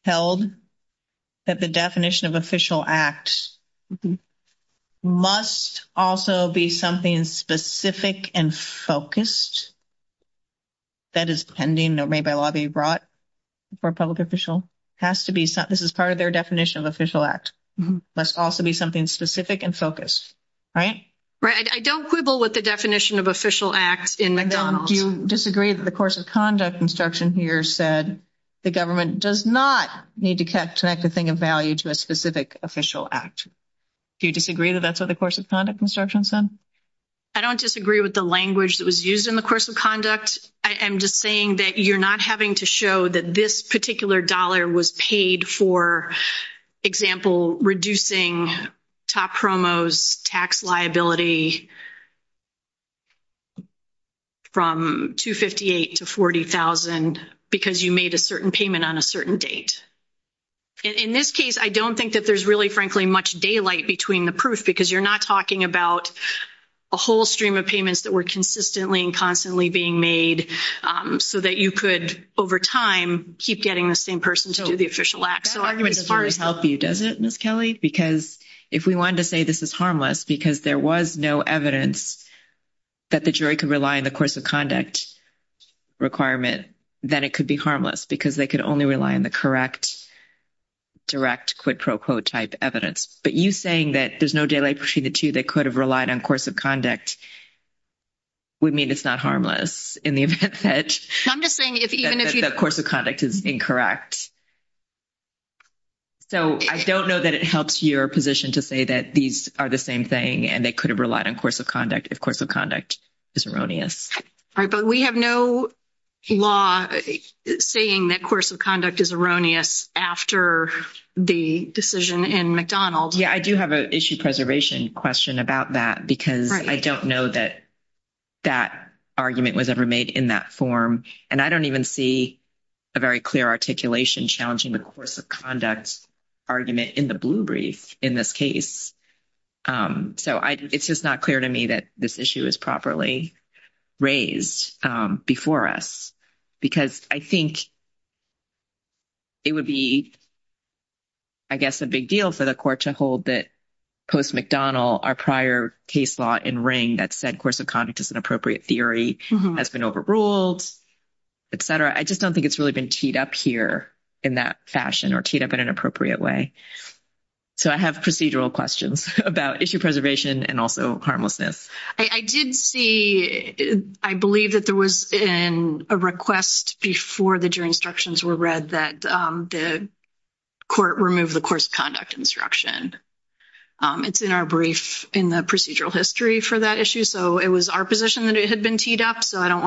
held that the definition of official act must also be something specific and focused? That is pending. That may well be brought for a public official. Has to be. This is part of their definition of official act. Must also be something specific and focused. Right? Right. I don't quibble with the definition of official act in McDonald's. Do you disagree that the course of conduct instruction here said the government does not need to connect a thing of value to a specific official act? Do you disagree that that's what the course of conduct instruction said? I don't disagree with the language that was used in the course of conduct. I'm just saying that you're not having to show that this particular dollar was paid for, for example, reducing top promos tax liability from $258,000 to $40,000 because you made a certain payment on a certain date. In this case, I don't think that there's really, frankly, much daylight between the proof because you're not talking about a whole stream of payments that were consistently and constantly being made so that you could, over time, keep getting the same person to do the official act. That's an argument that's really healthy, doesn't it, Ms. Kelly? Because if we wanted to say this is harmless because there was no evidence that the jury could rely on the course of conduct requirement, then it could be harmless because they could only rely on the correct direct quid pro quo type evidence. But you saying that there's no daylight between the two that could have relied on course of conduct would mean it's not harmless in the event that the course of conduct is incorrect. So I don't know that it helps your position to say that these are the same thing and they could have relied on course of conduct if course of conduct is erroneous. All right. But we have no law saying that course of conduct is erroneous after the decision in McDonald's. Yeah. I do have an issue preservation question about that because I don't know that that argument was ever made in that articulation challenging the course of conduct argument in the blue brief in this case. So it's just not clear to me that this issue is properly raised before us because I think it would be, I guess, a big deal for the court to hold that post-McDonald, our prior case law in Ring that said course of conduct is an appropriate theory has been overruled, et cetera. I just don't think it's really been teed up here in that fashion or teed up in an appropriate way. So I have procedural questions about issue preservation and also harmlessness. I did see, I believe that there was a request before the jury instructions were read that the court remove the course of conduct instruction. It's in our brief in the procedural history for that issue. So it was our position that it had been teed up. So I don't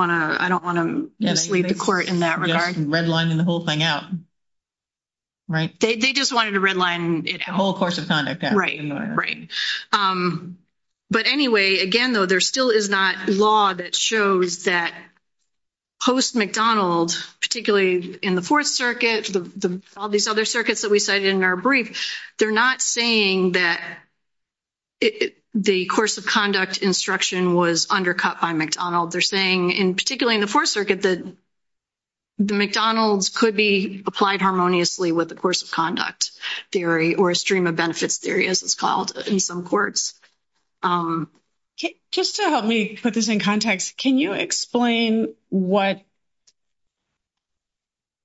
want to mislead the court in that regard. They redlined the whole thing out, right? They just wanted to redline it. The whole course of conduct. Right. Right. But anyway, again, though, there still is not law that shows that post-McDonald, particularly in the Fourth Circuit, all these other circuits that we cited in our brief, they're not saying that the course of conduct instruction was undercut by McDonald. They're saying, and particularly in the Fourth Circuit, that the McDonald's could be applied harmoniously with the course of conduct theory or a stream of benefits theory, as it's called in some courts. Just to help me put this in context, can you explain what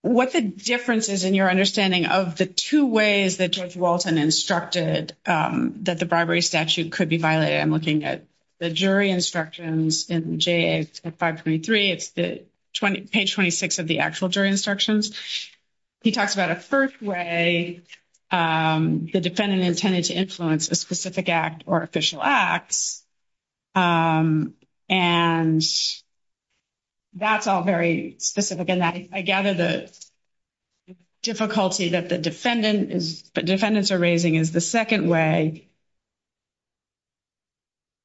the difference is in your understanding of the two ways that Judge Walton instructed that the bribery statute could be violated? I'm looking at the jury instructions in JA 523. It's page 26 of the actual jury instructions. He talks about a first way the defendant intended to influence a specific act or official act, and that's all very specific. And I gather the difficulty that the defendants are raising is the second way,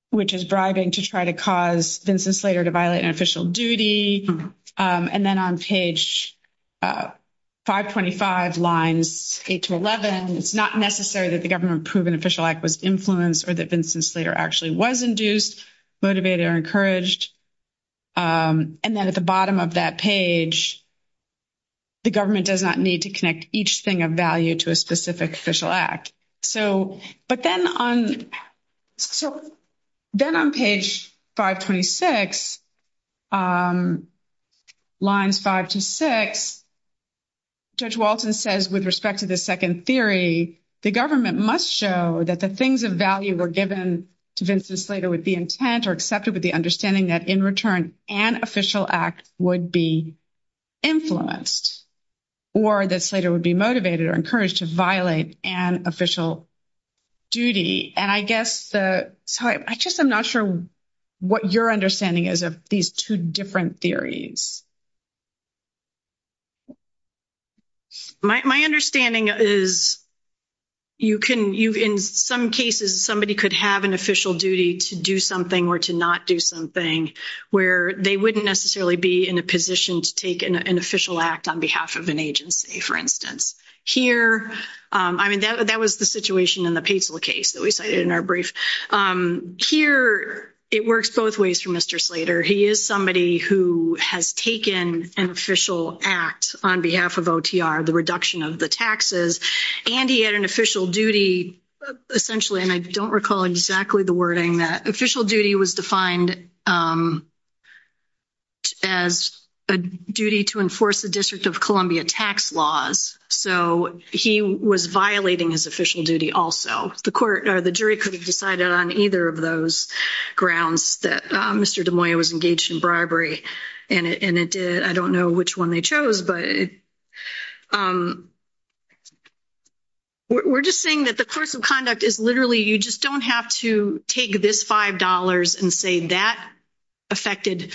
which is bribing to try to cause Vincent Slater to violate an official duty. And then on page 525, lines 8 to 11, it's not necessary that the government-proven official act was influenced or that Vincent Slater actually was induced, motivated, or encouraged. And then at the bottom of that page, the government does not need to connect each thing of value to a specific official act. But then on page 526, lines 5 to 6, Judge Walton says, with respect to the second theory, the government must show that the things of value were given to Vincent Slater would be intent or accepted with the understanding that in return an official act would be influenced or that Slater would be motivated or encouraged to violate an official duty. And I guess the – I just am not sure what your understanding is of these two different theories. My understanding is you can – in some cases, somebody could have an official duty to do something or to not do something, where they wouldn't necessarily be in a position to take an official act on behalf of an agency, for instance. Here – I mean, that was the situation in the Patesville case that we cited in our brief. Here, it works both ways for Mr. Slater. He is somebody who has taken an official act on behalf of OTR, the reduction of the taxes, and he had an official duty, essentially, and I don't recall exactly the wording, that official duty was defined as a duty to enforce the District of Columbia tax laws. So he was violating his official duty also. The jury could have decided on either of those grounds that Mr. DeMoya was engaged in bribery, and it did. I don't know which one they chose, but we're just saying that the course of conduct is literally you just don't have to take this $5 and say that affected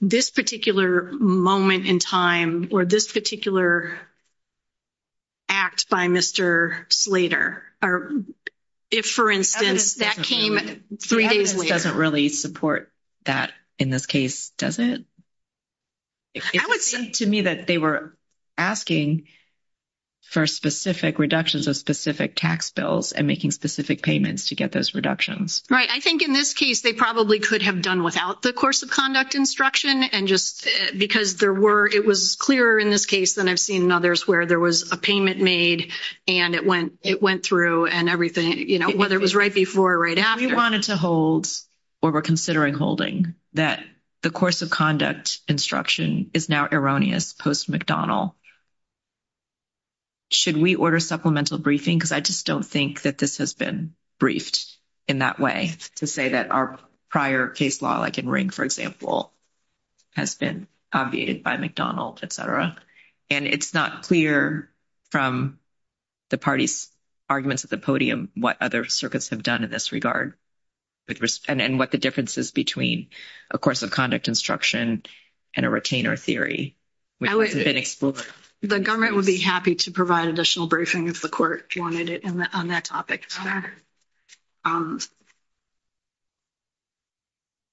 this particular moment in time or this particular act by Mr. Slater. Or if, for instance, that came three days later. It doesn't really support that in this case, does it? I would think to me that they were asking for specific reductions of specific tax bills and making specific payments to get those reductions. Right. I think in this case, they probably could have done without the course of conduct instruction, and just because there were – it was clearer in this case than I've seen in others where there was a payment made, and it went through and everything, you know, whether it was right before or right after. If we wanted to hold or were considering holding that the course of conduct instruction is now erroneous post-McDonald, should we order supplemental briefing? Because I just don't think that this has been briefed in that way to say that our prior case law, like in Ring, for example, has been obviated by McDonald, et cetera. And it's not clear from the parties' arguments at the podium what other circuits have done in this regard and what the difference is between a course of conduct instruction and a retainer theory. The government would be happy to provide additional briefing if the court wanted it on that topic.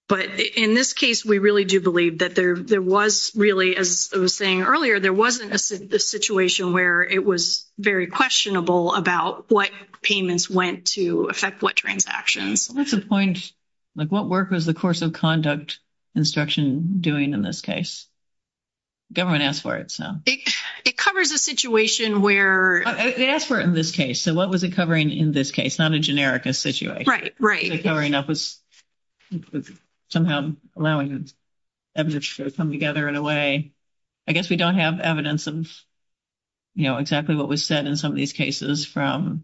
But in this case, we really do believe that there was really, as I was saying earlier, there wasn't a situation where it was very questionable about what payments went to affect what transactions. That's the point. Like, what work was the course of conduct instruction doing in this case? The government asked for it, so. It covers a situation where – They asked for it in this case, so what was it covering in this case? Not a generic situation. Right, right. It was covering up, somehow allowing evidence to come together in a way. I guess we don't have evidence of, you know, exactly what was said in some of these cases from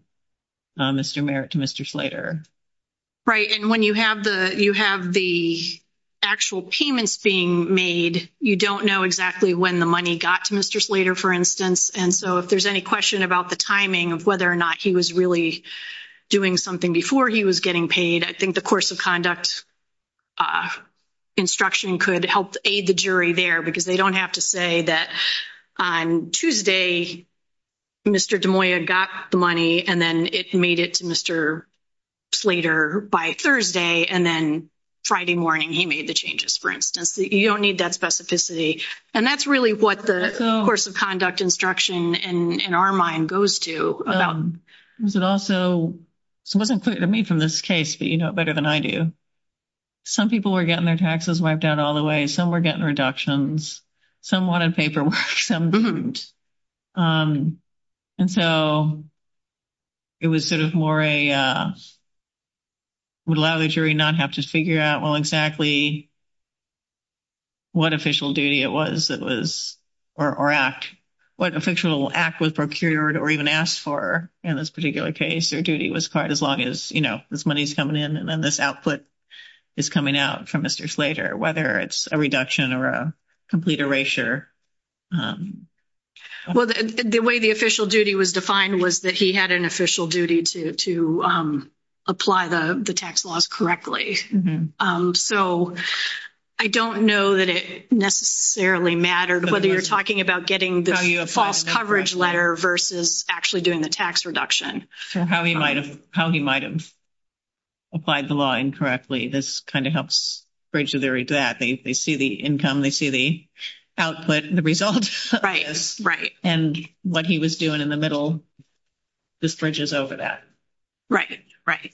Mr. Merritt to Mr. Slater. Right, and when you have the actual payments being made, you don't know exactly when the money got to Mr. Slater, for instance. And so if there's any question about the timing of whether or not he was really doing something before he was getting paid, I think the course of conduct instruction could help aid the jury there, because they don't have to say that on Tuesday, Mr. Des Moines got the money, and then it made it to Mr. Slater by Thursday, and then Friday morning he made the changes, for instance. You don't need that specificity. And that's really what the course of conduct instruction, in our mind, goes to. It also wasn't clear to me from this case, but you know it better than I do. Some people were getting their taxes wiped out all the way. Some were getting reductions. Some wanted paperwork. And so it was sort of more a – it would allow the jury not to have to figure out exactly what official duty it was, or what official act was procured or even asked for in this particular case. Their duty was quite as long as, you know, this money's coming in and then this output is coming out from Mr. Slater, whether it's a reduction or a complete erasure. Well, the way the official duty was defined was that he had an official duty to apply the tax laws correctly. So I don't know that it necessarily mattered, whether you're talking about getting the false coverage letter versus actually doing the tax reduction. How he might have applied the law incorrectly. This kind of helps bridge the very gap. They see the income. They see the output, the results. Right, right. And what he was doing in the middle, this bridges over that. Right, right.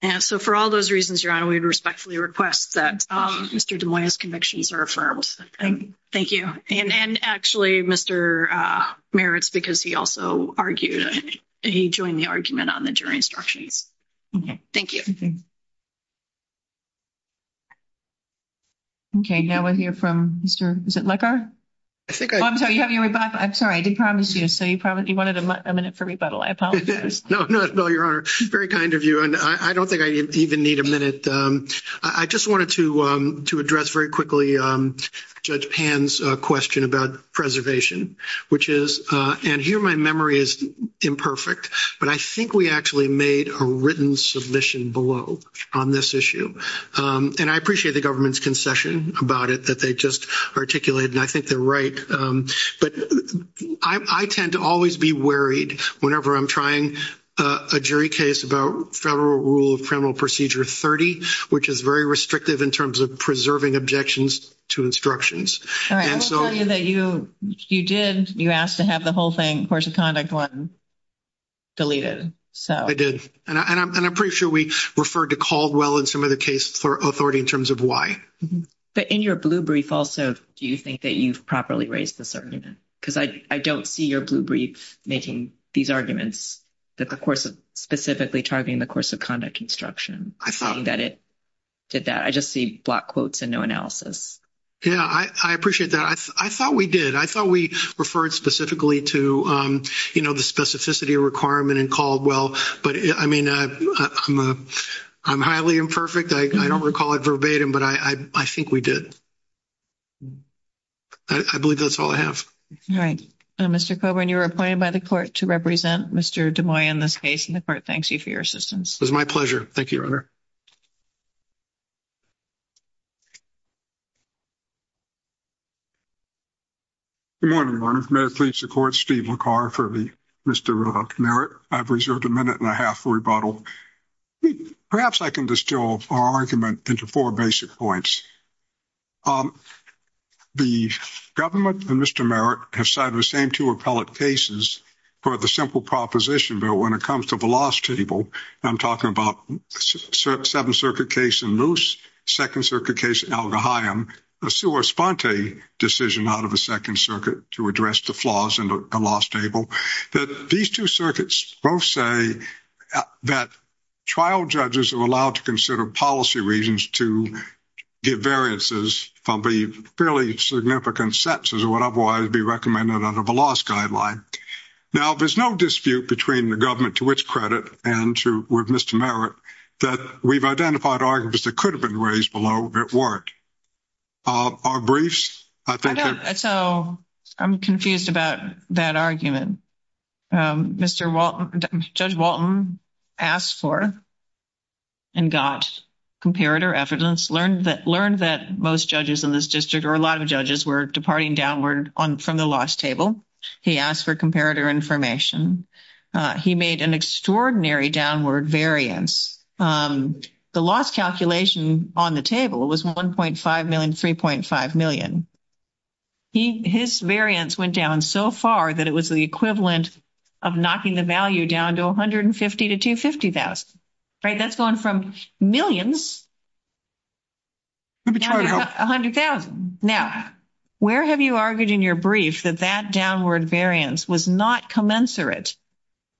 And so for all those reasons, Your Honor, we respectfully request that Mr. DeMoya's convictions are affirmed. Thank you. And actually, Mr. Merritt, because he also argued, he joined the argument on the jury instructions. Okay. Thank you. Okay, now we'll hear from Mr. Lecker. I'm sorry, I did promise you. You wanted a minute for rebuttal. I apologize. No, Your Honor. Very kind of you. And I don't think I even need a minute. I just wanted to address very quickly Judge Pan's question about preservation, which is, and here my memory is imperfect, but I think we actually made a written submission below on this issue. And I appreciate the government's concession about it that they just articulated, and I think they're right. But I tend to always be worried whenever I'm trying a jury case about Federal Rule of Criminal Procedure 30, which is very restrictive in terms of preserving objections to instructions. All right, I will tell you that you did, you asked to have the whole thing, course of conduct one, deleted. I did. And I'm pretty sure we referred to Caldwell in some of the cases for authority in terms of why. But in your blue brief also, do you think that you've properly raised this argument? Because I don't see your blue brief making these arguments that the course of, specifically targeting the course of conduct instruction. I find that it did that. I just see block quotes and no analysis. Yeah, I appreciate that. I thought we did. I thought we referred specifically to, you know, the specificity of requirement in Caldwell. But, I mean, I'm highly imperfect. I don't recall it verbatim, but I think we did. I believe that's all I have. All right. Mr. Coburn, you are appointed by the court to represent Mr. DeMoy in this case, and the court thanks you for your assistance. It was my pleasure. Thank you, Your Honor. Thank you, Your Honor. Good morning, Your Honor. May it please the court, Steve LaCar for Mr. Merritt. I've reserved a minute and a half for rebuttal. Perhaps I can distill our argument into four basic points. The government and Mr. Merritt have cited the same two appellate cases for the simple proposition bill when it comes to the loss table. I'm talking about the Seventh Circuit case in Moose, Second Circuit case in Algaheim, a sua sponte decision out of the Second Circuit to address the flaws in the loss table. These two circuits both say that trial judges are allowed to consider policy reasons to get variances from the fairly significant sets as would otherwise be recommended under the loss guideline. Now, there's no dispute between the government to which credit and with Mr. Merritt that we've identified arguments that could have been raised below it weren't. Our briefs, I think that- I'm confused about that argument. Judge Walton asked for and got comparator evidence, learned that most judges in this district or a lot of judges were departing downward from the loss table. He asked for comparator information. He made an extraordinary downward variance. The loss calculation on the table was 1.5 million, 3.5 million. His variance went down so far that it was the equivalent of knocking the value down to 150 to 250,000, right? That's gone from millions to 100,000. Now, where have you argued in your brief that that downward variance was not commensurate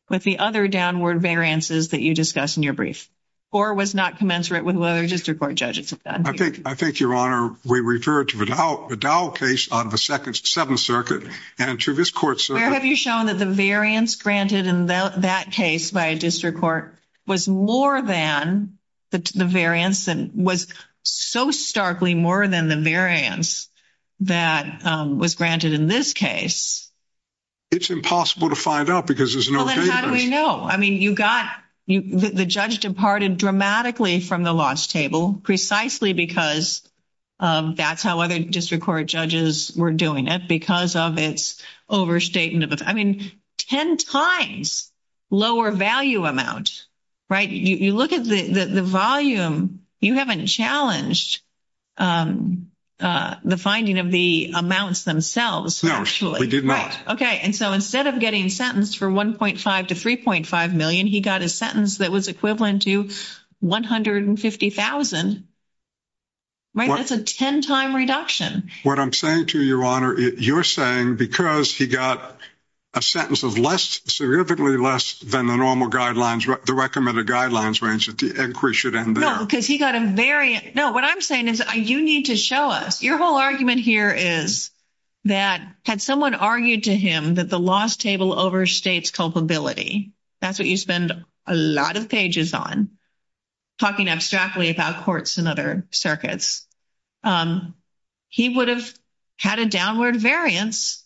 with the other downward variances that you discussed in your brief or was not commensurate with what other district court judges have done? I think, Your Honor, we referred to the Dow case on the Second Circuit and to this court- Where have you shown that the variance granted in that case by a district court was more than the variance and was so starkly more than the variance that was granted in this case? It's impossible to find out because there's no data. Well, then how do they know? I mean, you got- the judge departed dramatically from the loss table precisely because that's how other district court judges were doing it, because of its overstatement of- I mean, ten times lower value amount, right? You look at the volume. You haven't challenged the finding of the amounts themselves. No, we did not. Okay, and so instead of getting sentenced for 1.5 to 3.5 million, he got a sentence that was equivalent to 150,000, right? That's a ten-time reduction. What I'm saying to you, Your Honor, you're saying because he got a sentence of less, significantly less than the normal guidelines, the recommended guidelines range, that the inquiry should end there. No, because he got a very- no, what I'm saying is you need to show us. Your whole argument here is that had someone argued to him that the loss table overstates culpability, that's what you spend a lot of pages on, talking abstractly about courts and other circuits, he would have had a downward variance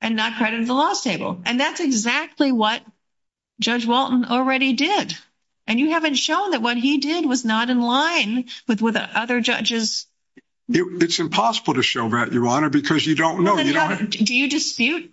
and not credited the loss table, and that's exactly what Judge Walton already did, and you haven't shown that what he did was not in line with what the other judges- It's impossible to show that, Your Honor, because you don't know. Do you dispute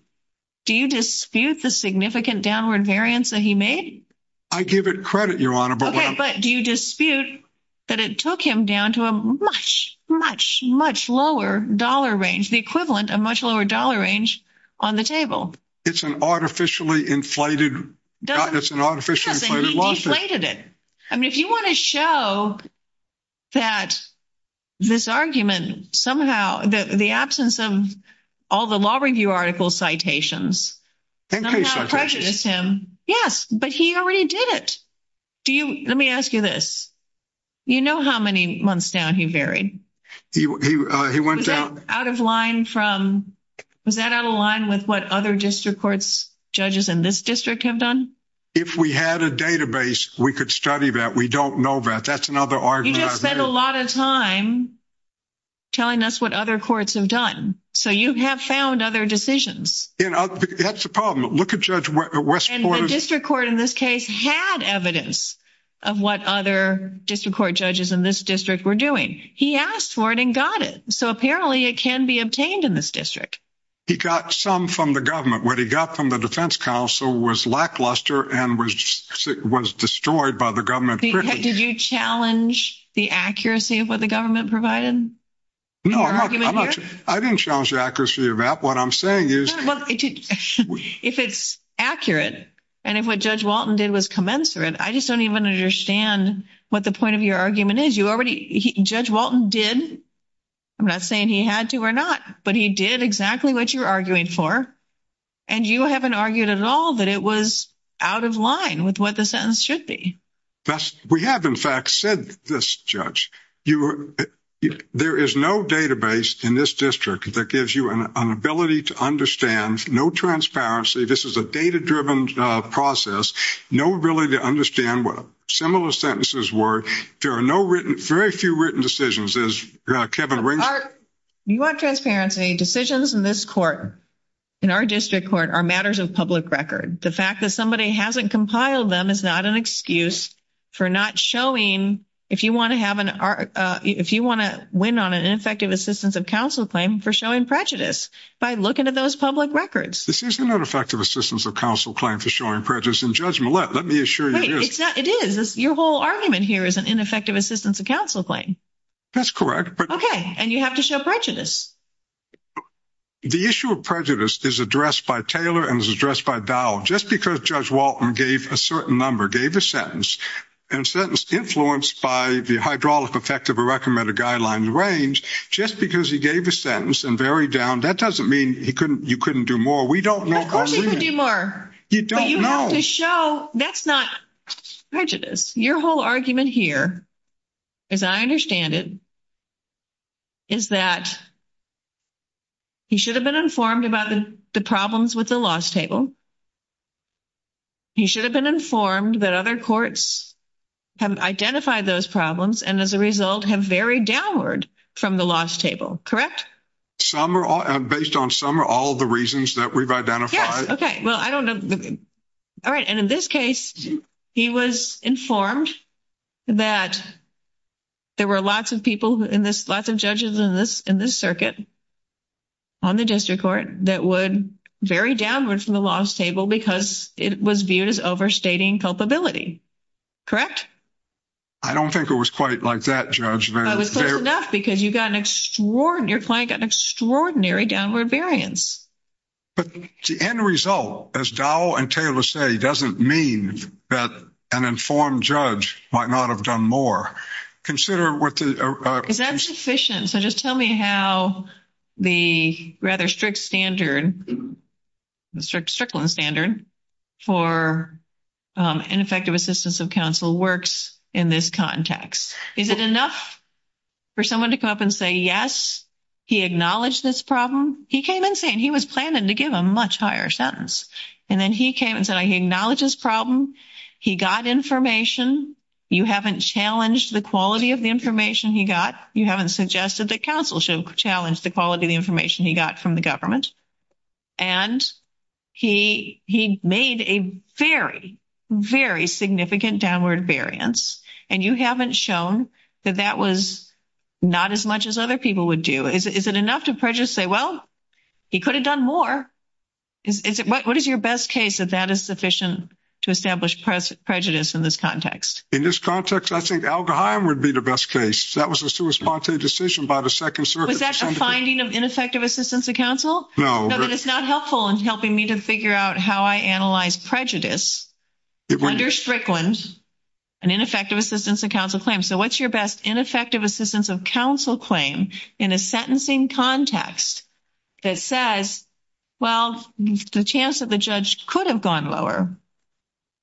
the significant downward variance that he made? I give it credit, Your Honor, but- Okay, but do you dispute that it took him down to a much, much, much lower dollar range, the equivalent of much lower dollar range on the table? It's an artificially inflated- it's an artificially inflated loss table. Because he deflated it. I mean, if you want to show that this argument somehow, the absence of all the law review article citations- Increased citation. Does not prejudice him. Yes, but he already did it. Do you- let me ask you this. You know how many months down he varied? He went down- Out of line from- was that out of line with what other district courts, judges in this district have done? If we had a database, we could study that. We don't know that. That's another argument- He just spent a lot of time telling us what other courts have done. So you have found other decisions. That's the problem. Look at Judge Westport- And the district court in this case had evidence of what other district court judges in this district were doing. He asked for it and got it. So apparently it can be obtained in this district. He got some from the government. What he got from the defense council was lackluster and was destroyed by the government. Did you challenge the accuracy of what the government provided? No, I didn't challenge the accuracy of that. What I'm saying is- If it's accurate and if what Judge Walton did was commensurate, I just don't even understand what the point of your argument is. Judge Walton did. I'm not saying he had to or not, but he did exactly what you're arguing for. And you haven't argued at all that it was out of line with what the sentence should be. We have, in fact, said this, Judge. There is no database in this district that gives you an ability to understand. No transparency. This is a data-driven process. No ability to understand what similar sentences were. There are no written, very few written decisions, as Kevin brings up. You want transparency. Decisions in this court, in our district court, are matters of public record. The fact that somebody hasn't compiled them is not an excuse for not showing, if you want to have an, if you want to win on an ineffective assistance of counsel claim, for showing prejudice by looking at those public records. This is not effective assistance of counsel claim for showing prejudice in judgment. Let me assure you. It is. Your whole argument here is an ineffective assistance of counsel claim. That's correct. Okay. And you have to show prejudice. The issue of prejudice is addressed by Taylor and is addressed by Dowell. Just because Judge Walton gave a certain number, gave a sentence, influenced by the hydraulic effect of a recommended guideline range, just because he gave a sentence and varied down, that doesn't mean you couldn't do more. We don't know. Of course you can do more. You don't know. To show that's not prejudice. Your whole argument here, as I understand it, is that he should have been informed about the problems with the loss table. He should have been informed that other courts have identified those problems and as a result have varied downward from the loss table. Correct? Based on some or all of the reasons that we've identified. Yeah. Okay. Well, I don't know. All right. And in this case, he was informed that there were lots of people in this, lots of judges in this circuit on the district court that would vary downward from the loss table because it was viewed as overstating culpability. Correct? I don't think it was quite like that, Judge. It was close enough because you got an extraordinary, your client got an extraordinary downward variance. But the end result, as Dowell and Taylor say, doesn't mean that an informed judge might not have done more. Consider what the – Is that sufficient? So just tell me how the rather strict standard, the Strickland standard for ineffective assistance of counsel works in this context. Is it enough for someone to come up and say, yes, he acknowledged this problem? He came in saying he was planning to give a much higher sentence. And then he came and said he acknowledged this problem. He got information. You haven't challenged the quality of the information he got. You haven't suggested that counsel should challenge the quality of the information he got from the government. And he made a very, very significant downward variance, and you haven't shown that that was not as much as other people would do. Is it enough to prejudice say, well, he could have done more? What is your best case that that is sufficient to establish prejudice in this context? In this context, I think alcohol would be the best case. That was a suicide decision by the Second Circuit. Was that a finding of ineffective assistance of counsel? No. No, but it's not helpful in helping me to figure out how I analyze prejudice under Strickland, an ineffective assistance of counsel claim. So what's your best ineffective assistance of counsel claim in a sentencing context that says, well, the chance that the judge could have gone lower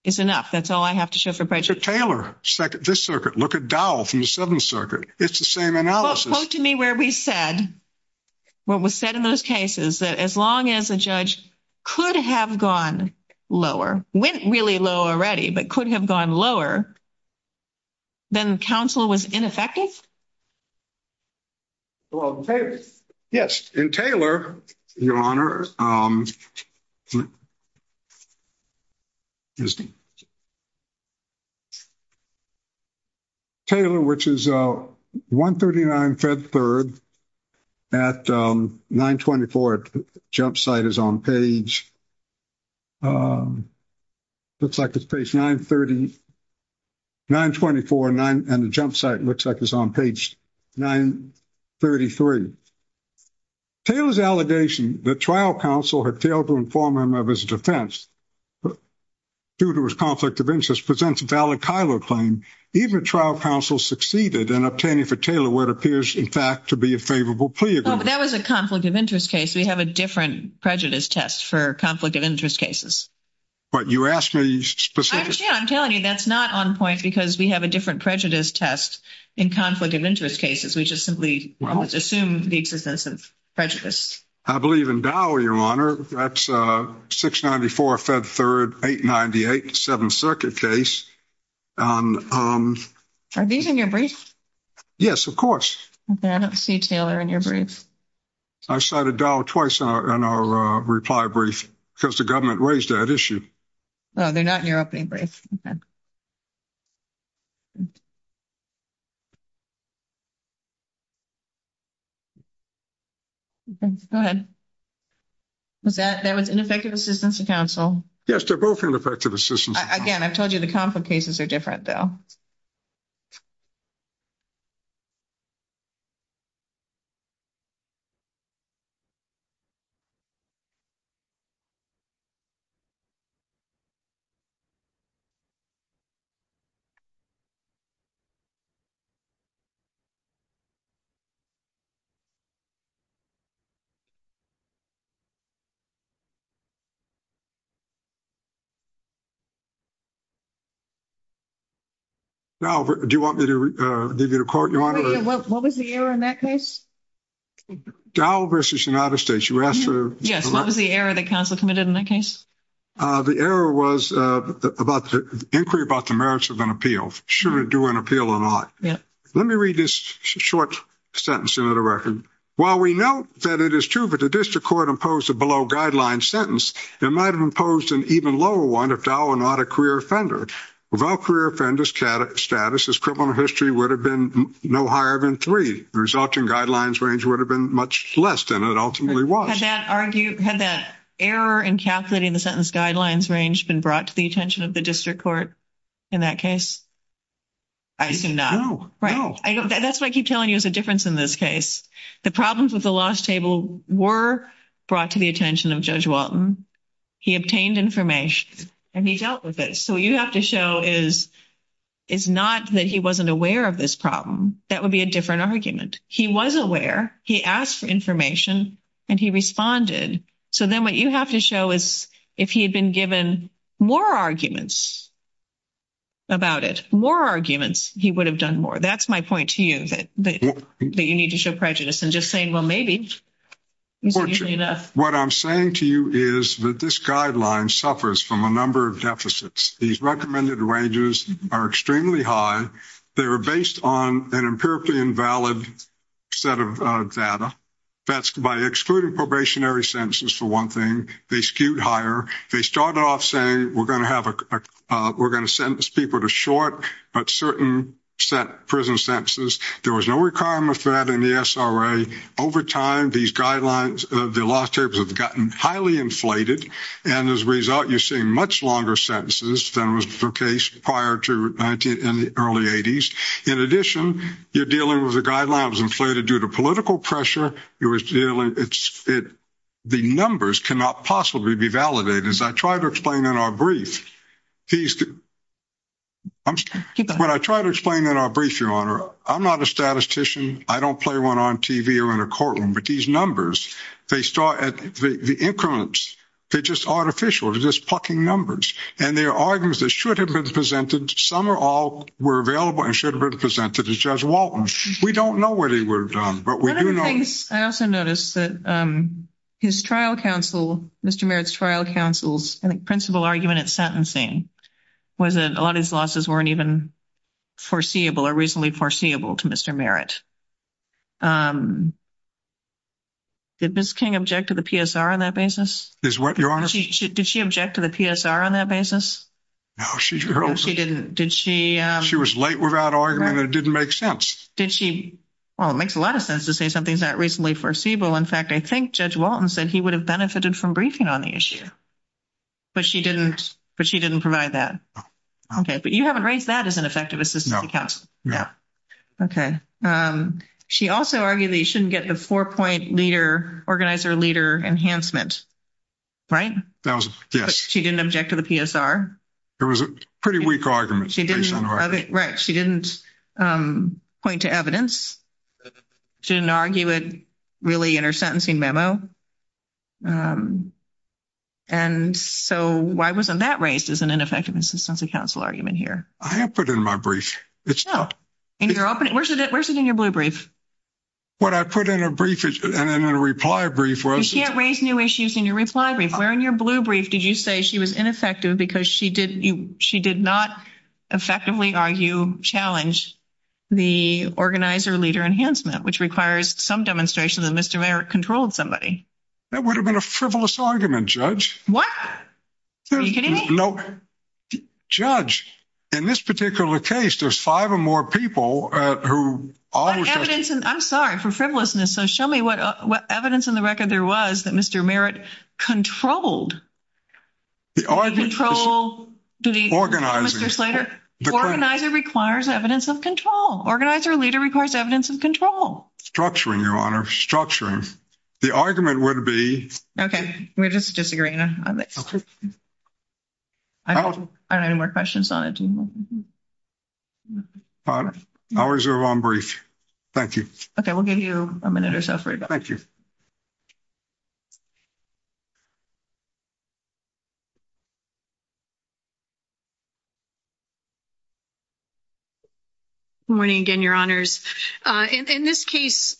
is enough. That's all I have to show for prejudice. Taylor, this circuit, look at Dow from the Seventh Circuit. It's the same analysis. Quote to me where we said, what was said in those cases, that as long as a judge could have gone lower, went really low already, but could have gone lower, then counsel was ineffective? Well, yes. In Taylor, Your Honor, Taylor, which is 139, 139, Fed Third at 924 Jumpsite is on page, looks like it's page 930, 924, and the Jumpsite looks like it's on page 933. Taylor's allegation that trial counsel had failed to inform him of his defense, due to his conflict of interest, presents a valid Kylo claim. Even trial counsel succeeded in obtaining for Taylor what appears, in fact, to be a favorable plea agreement. That was a conflict of interest case. We have a different prejudice test for conflict of interest cases. But you asked me specifically. Actually, I'm telling you, that's not on point because we have a different prejudice test in conflict of interest cases. We just simply assumed the existence of prejudice. I believe in Dow, Your Honor. That's 694, Fed Third, 898, Seventh Circuit case. Are these in your brief? Yes, of course. Okay. I don't see Taylor in your brief. I cited Dow twice in our reply brief because the government raised that issue. Oh, they're not in your opening brief. Okay. Okay. Go ahead. That was ineffective assistance to counsel. Yes, they're both ineffective assistance. Again, I told you the conflict cases are different, though. Now, do you want me to give you the court, Your Honor? What was the error in that case? Dow versus United States. You asked for the- Yes. What was the error that counsel committed in that case? The error was about the inquiry about the merits of an appeal. Should it do an appeal or not? Yes. Let me read this short sentence, Senator Reckon. While we know that it is true that the district court imposed a below guideline sentence, it might have imposed an even lower one if Dow were not a career offender. Without career offenders' status, his criminal history would have been no higher than three. The resulting guidelines range would have been much less than it ultimately was. Had that error in calculating the sentence guidelines range been brought to the attention of the district court in that case? I do not. No. No. That's what I keep telling you is the difference in this case. The problems with the lost table were brought to the attention of Judge Walton. He obtained information and he dealt with it. So what you have to show is not that he wasn't aware of this problem. That would be a different argument. He was aware. He asked for information and he responded. So then what you have to show is if he had been given more arguments about it, more arguments, he would have done more. That's my point to you that you need to show prejudice and just saying, well, maybe. What I'm saying to you is that this guideline suffers from a number of deficits. These recommended ranges are extremely high. They were based on an empirically invalid set of data. That's by excluding probationary sentences for one thing. They skewed higher. They started off saying we're going to sentence people to short, but certain prison sentences. There was no requirement for that in the SRA. Over time, these guidelines of the lost tables have gotten highly inflated, and as a result, you're seeing much longer sentences than was the case prior to the early 80s. In addition, you're dealing with a guideline that was inflated due to political pressure. The numbers cannot possibly be validated. As I tried to explain in our brief, Your Honor, I'm not a statistician. I don't play one on TV or in a courtroom, but these numbers, the increments, they're just artificial. They're just plucking numbers, and there are arguments that should have been presented. Some or all were available and should have been presented to Judge Walton. We don't know where they were done, but we do know. I also noticed that his trial counsel, Mr. Merritt's trial counsel's principle argument at sentence was that a lot of his losses weren't even foreseeable or reasonably foreseeable to Mr. Merritt. Did Ms. King object to the PSR on that basis? Your Honor? Did she object to the PSR on that basis? No, she didn't. She was late without arguing, and it didn't make sense. It makes a lot of sense to say something's not reasonably foreseeable. In fact, I think Judge Walton said he would have benefited from briefing on the issue, but she didn't provide that. Okay. But you haven't raised that as an effective assistance to counsel. Okay. She also argued that you shouldn't get the four-point organizer leader enhancement, right? She didn't object to the PSR. It was a pretty weak argument. Right. She didn't point to evidence. She didn't argue it really in her sentencing memo. And so why wasn't that raised as an ineffective assistance to counsel argument here? I haven't put it in my brief. No. Where's it in your blue brief? What I put in a reply brief. You can't raise new issues in your reply brief. Where in your blue brief did you say she was ineffective because she did not effectively argue challenge the organizer leader enhancement, which requires some demonstration that Mr. Merritt controlled somebody. That would have been a frivolous argument, Judge. What? Are you kidding me? No. Judge, in this particular case, there's five or more people who. I'm sorry for frivolousness. So show me what evidence in the record there was that Mr. Merritt controlled. Organizer requires evidence of control. Organizer leader requires evidence of control. Structuring, Your Honor. The argument would be. Okay. We're just disagreeing. Okay. I don't have any more questions on it. All right. I'll reserve one brief. Thank you. Okay. We'll give you a minute or so. Thank you. Morning again, Your Honors. In this case,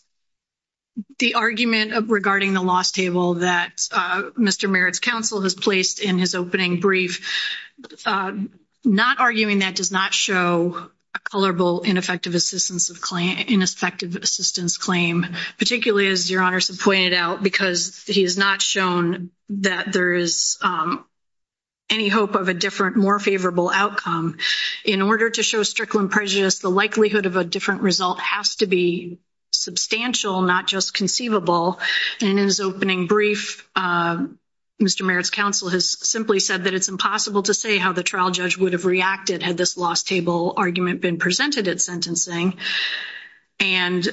the argument of regarding the loss table that Mr. Merritt's counsel has placed in his opening brief, not arguing that does not show a colorable ineffective assistance of claim, ineffective assistance of claim. In this particular case, Mr. Merritt's counsel has pointed out because he has not shown that there is any hope of a different, more favorable outcome. In order to show strict when prejudice, the likelihood of a different result has to be substantial, not just conceivable. And in his opening brief, Mr. Merritt's counsel has simply said that it's impossible to say how the trial judge would have reacted had this loss table argument been presented at sentencing. And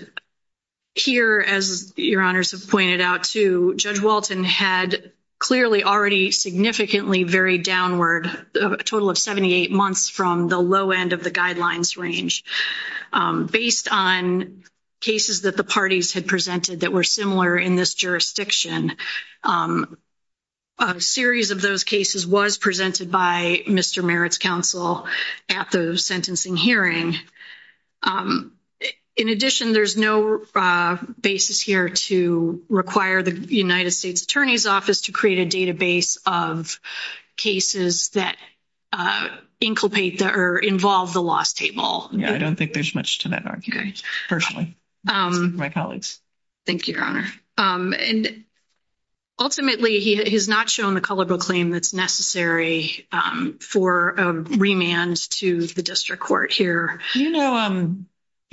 here, as Your Honors has pointed out too, Judge Walton had clearly already significantly varied downward, a total of 78 months from the low end of the guidelines range. Based on cases that the parties had presented that were similar in this jurisdiction, a series of those cases was presented by Mr. Merritt's counsel at the sentencing hearing. In addition, there's no basis here to require the United States Attorney's Office to create a database of cases that inculcate or involve the loss table. I don't think there's much to that argument, personally. My colleagues. Thank you, Your Honor. And ultimately, he has not shown the colorable claim that's necessary for a remand to the district court here. You know,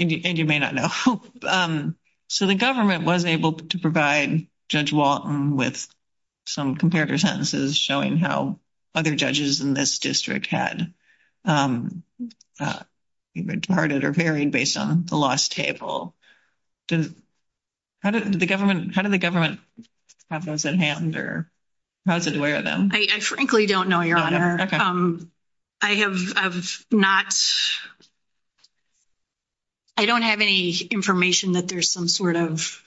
and you may not know, so the government was able to provide Judge Walton with some comparator sentences showing how other judges in this district had departed or varied based on the loss table. How did the government have those at hand or how did it aware of them? I frankly don't know, Your Honor. I have not, I don't have any information that there's some sort of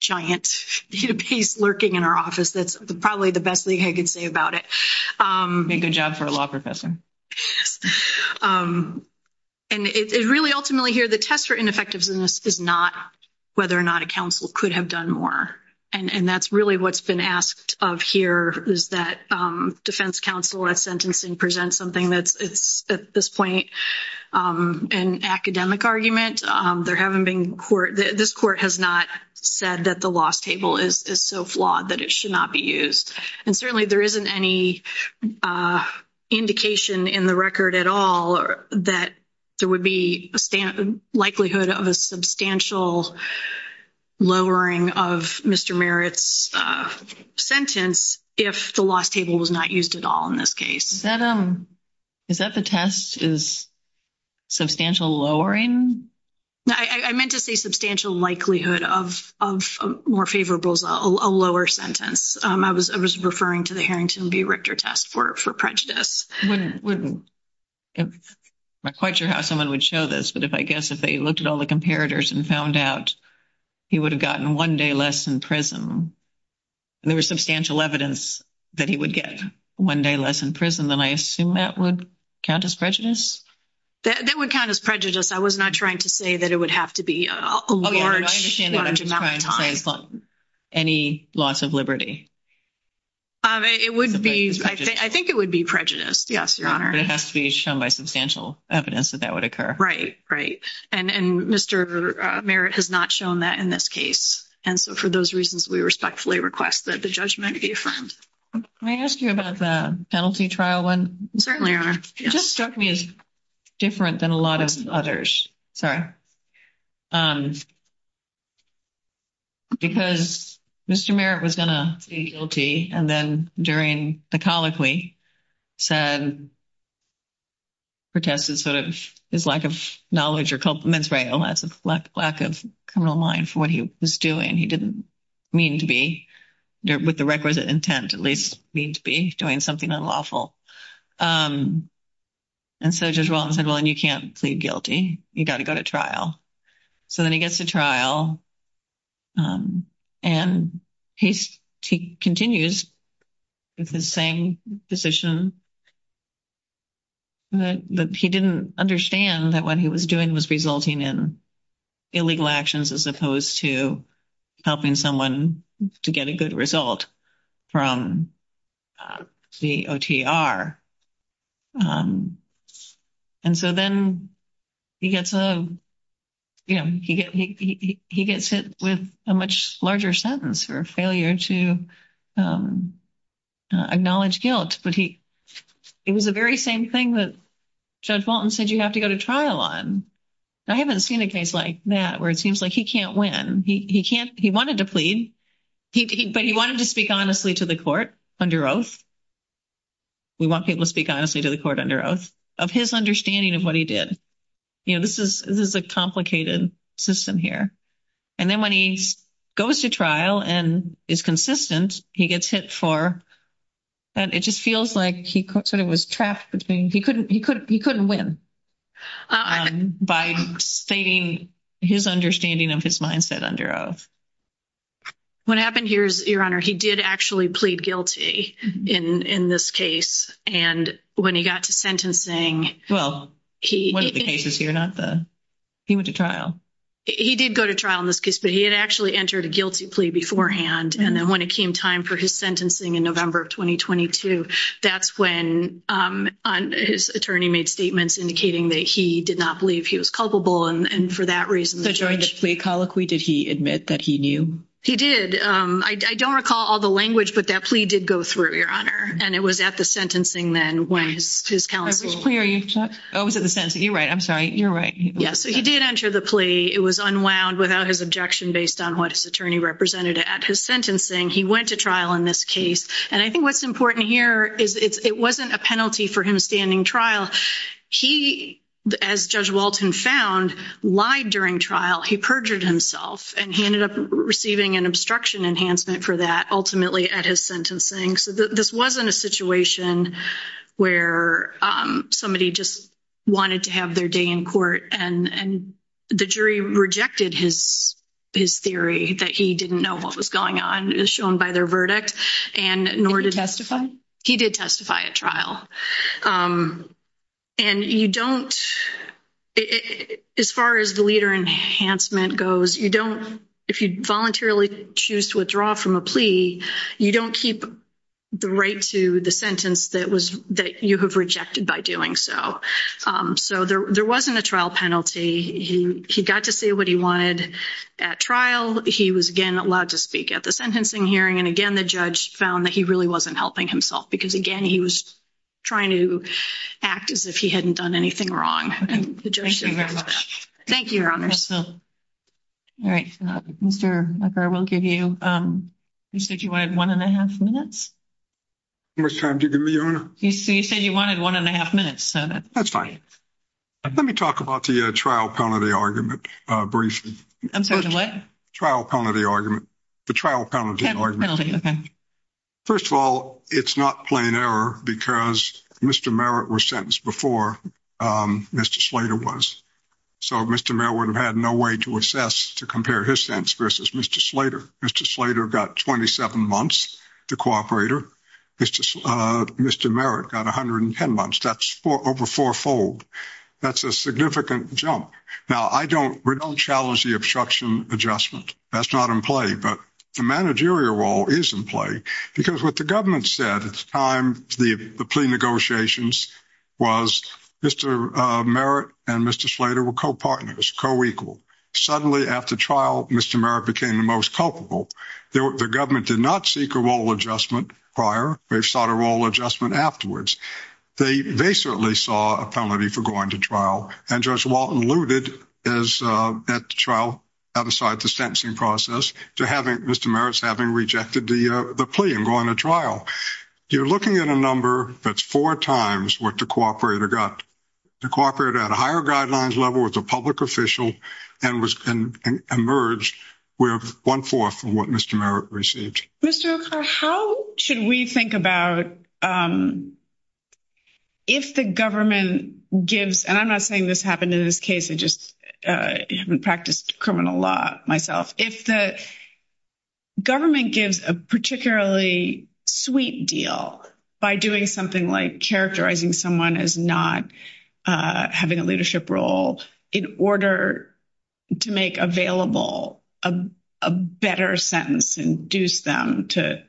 giant piece lurking in our office. That's probably the best thing I can say about it. You did a good job for a law professor. And it really ultimately here, the test for ineffectiveness is not whether or not a counsel could have done more. And that's really what's been asked of here is that defense counsel at sentencing presents something that's at this point an academic argument. There haven't been court, this court has not said that the loss table is so flawed that it should not be used. And certainly there isn't any indication in the record at all that there would be likelihood of a substantial lowering of Mr. Merritt's sentence if the loss table was not used at all in this case. Is that the test is substantial lowering? I meant to say substantial likelihood of more favorable, a lower sentence. I was referring to the Harrington v. Richter test for prejudice. I'm not quite sure how someone would show this, but I guess if they looked at all the comparators and found out he would have gotten one day less in prison, and there was substantial evidence that he would get one day less in prison, then I assume that would count as prejudice? That would count as prejudice. I was not trying to say that it would have to be a large amount of time. Any loss of liberty? I think it would be prejudice, yes, Your Honor. But it has to be shown by substantial evidence that that would occur. Right, right. And Mr. Merritt has not shown that in this case. And so for those reasons, we respectfully request that the judgment be affirmed. Can I ask you about the penalty trial one? Certainly, Your Honor. It just struck me as different than a lot of others. Sorry. Because Mr. Merritt was going to plead guilty, and then during the colloquy said protests of his lack of knowledge or culpability, lack of criminal mind for what he was doing. He didn't mean to be, with the requisite intent at least, mean to be doing something unlawful. And so Judge Rollins said, well, you can't plead guilty. You've got to go to trial. So then he gets to trial, and he continues with the same position, but he didn't understand that what he was doing was resulting in illegal actions as opposed to helping someone to get a good result from the OTR. And so then he gets hit with a much larger sentence for failure to acknowledge guilt. But it was the very same thing that Judge Bolton said you have to go to trial on. I haven't seen a case like that where it seems like he can't win. He wanted to plead, but he wanted to speak honestly to the court under oath. We want people to speak honestly to the court under oath, of his understanding of what he did. You know, this is a complicated system here. And then when he goes to trial and is consistent, he gets hit for, and it just feels like he sort of was trapped between, he couldn't win by stating his understanding of his mindset under oath. What happened here is, Your Honor, he did actually plead guilty in this case. And when he got to sentencing... Well, one of the cases here, not the... He went to trial. He did go to trial in this case, but he had actually entered a guilty plea beforehand. And then when it came time for his sentencing in November of 2022, that's when his attorney made statements indicating that he did not believe he was culpable. And for that reason, the judge... So during the plea colloquy, did he admit that he knew? He did. I don't recall all the language, but that plea did go through, Your Honor. And it was at the sentencing then when his counsel... Oh, was it the sentencing? You're right. I'm sorry. You're right. Yeah. So he did enter the plea. It was unwound without his objection based on what his attorney represented. At his sentencing, he went to trial in this case. And I think what's important here is it wasn't a penalty for him standing trial. He, as Judge Walton found, lied during trial. He perjured himself. And he ended up receiving an obstruction enhancement for that, ultimately, at his sentencing. So this wasn't a situation where somebody just wanted to have their day in court. And the jury rejected his theory that he didn't know what was going on, as shown by their verdict. And nor did he testify. He did testify at trial. And you don't, as far as the leader enhancement goes, you don't, if you voluntarily choose to withdraw from a plea, you don't keep the right to the sentence that was, that you have rejected by doing so. So there wasn't a trial penalty. He got to say what he wanted at trial. He was, again, allowed to speak at the sentencing hearing. And, again, the judge found that he really wasn't helping himself. Because, again, he was trying to act as if he hadn't done anything wrong. And the judge agreed with that. Thank you, Your Honor. All right. Mr. Lepper, we'll give you, you said you wanted one and a half minutes? How much time did you give me, Your Honor? You said you wanted one and a half minutes. That's fine. Let me talk about the trial penalty argument briefly. I'm sorry, what? Trial penalty argument. The trial penalty argument. First of all, it's not plain error because Mr. Merritt was sentenced before Mr. Slater was. So Mr. Merritt would have had no way to assess, to compare his sentence versus Mr. Slater. Mr. Slater got 27 months to cooperate her. Mr. Merritt got 110 months. That's over fourfold. That's a significant jump. Now, I don't, we don't challenge the obstruction adjustment. That's not in play. But the managerial role is in play because what the government said at the time, the plea negotiations, was Mr. Merritt and Mr. Slater were co-partners, co-equal. Suddenly, at the trial, Mr. Merritt became the most culpable. The government did not seek a role adjustment prior. They sought a role adjustment afterwards. They certainly saw a penalty for going to trial. And Judge Walton alluded at the trial, outside the sentencing process, to Mr. Merritt having rejected the plea and going to trial. You're looking at a number that's four times what the cooperator got. The cooperator had a higher guidelines level, was a public official, and emerged with one-fourth of what Mr. Merritt received. Mr. O'Connor, how should we think about if the government gives, and I'm not saying this happened in this case, I just haven't practiced criminal law myself, if the government gives a particularly sweet deal by doing something like characterizing someone as not having a leadership role in order to make available a better sentence and induce them to,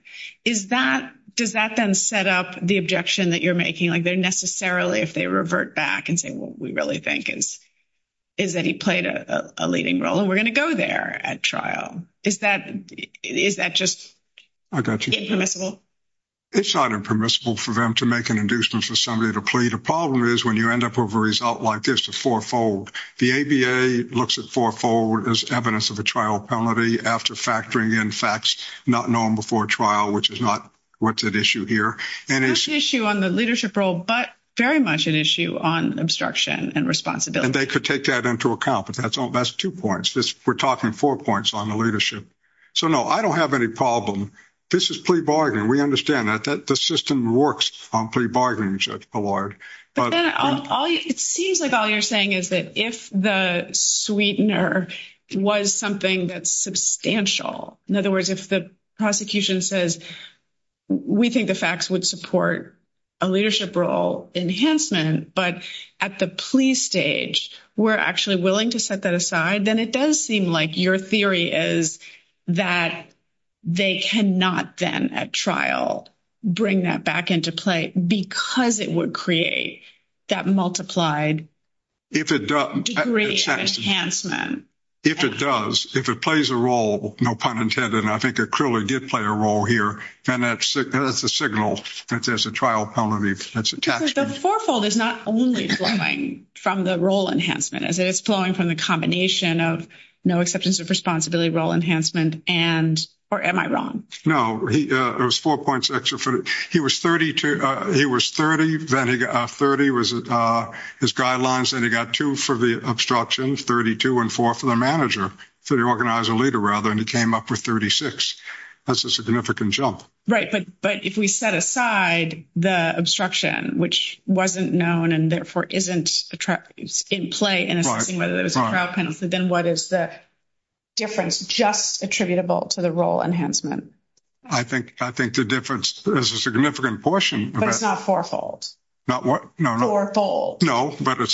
does that then set up the objection that you're making, like necessarily if they revert back and say what we really think is that he played a leading role and we're going to go there at trial? Is that just impermissible? It's not impermissible for them to make an inducement for somebody to plead. The problem is when you end up with a result like this, it's fourfold. The ABA looks at fourfold as evidence of a trial penalty after factoring in facts not known before trial, which is not what's at issue here. It's an issue on the leadership role, but very much an issue on obstruction and responsibility. And they could take that into account, but that's two points. We're talking four points on the leadership. So, no, I don't have any problem. This is plea bargaining. We understand that. The system works on plea bargaining, so to the Lord. It seems like all you're saying is that if the sweetener was something that's substantial, in other words, if the prosecution says we think the facts would support a leadership role enhancement, but at the plea stage we're actually willing to set that aside, then it does seem like your theory is that they cannot then at trial bring that back into play because it would create that multiplied degree of enhancement. If it does, if it plays a role, no pun intended, and I think it clearly did play a role here, and that's a signal that there's a trial penalty that's attached. The fourfold is not only flowing from the role enhancement. It's flowing from the combination of no exceptions of responsibility, role enhancement, and am I wrong? No. There's four points. He was 30. Then 30 was his guidelines, and he got two for the obstruction, 32, and four for the manager, for the organizer leader, rather, and he came up with 36. That's a significant jump. Right, but if we set aside the obstruction, which wasn't known and therefore isn't in play in assessing whether there's a trial penalty, then what is the difference just attributable to the role enhancement? I think the difference is a significant portion. But it's not fourfold. Not what? Fourfold. No, but it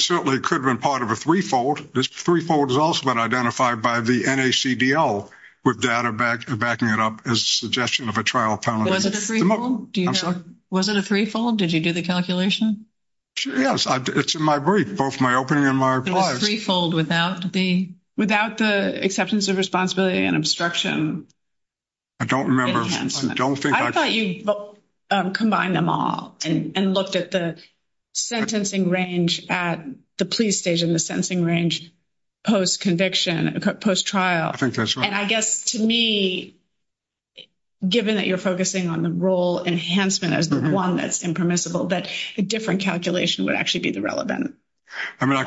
certainly could have been part of a threefold. This threefold is also been identified by the NACDL with data backing it up as a suggestion of a trial penalty. Was it a threefold? Do you know? Was it a threefold? Did you do the calculation? Yes. It's in my brief, both my opening and my replies. A threefold without the? Without the exceptions of responsibility and obstruction. I don't remember. I thought you combined them all and looked at the sentencing range at the police station, the sentencing range post-conviction, post-trial. I think that's right. And I guess to me, given that you're focusing on the role enhancement as the one that's impermissible, that a different calculation would actually be relevant. I mean,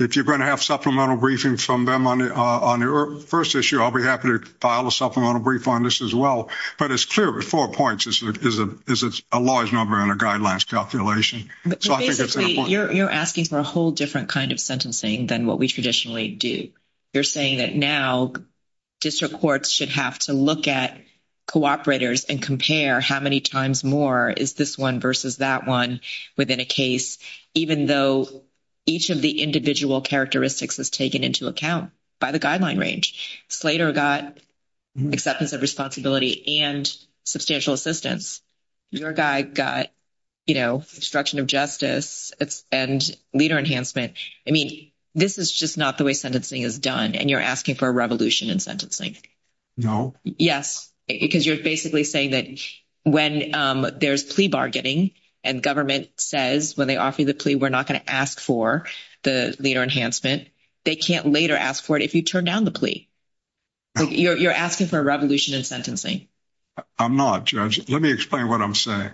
if you're going to have supplemental briefings from them on your first issue, I'll be happy to file a supplemental brief on this as well. But it's clear with four points is it's a large number and a guidelines calculation. You're asking for a whole different kind of sentencing than what we traditionally do. You're saying that now district courts should have to look at cooperators and compare how many times more is this one versus that one within a case, even though each of the individual characteristics is taken into account by the guideline range. Slater got acceptance of responsibility and substantial assistance. Your guy got instruction of justice and leader enhancement. I mean, this is just not the way sentencing is done, and you're asking for a revolution in sentencing. No. Yes, because you're basically saying that when there's plea bargaining and government says when they offer you the plea, we're not going to ask for the leader enhancement, they can't later ask for it if you turn down the plea. You're asking for a revolution in sentencing. I'm not. Judge, let me explain what I'm saying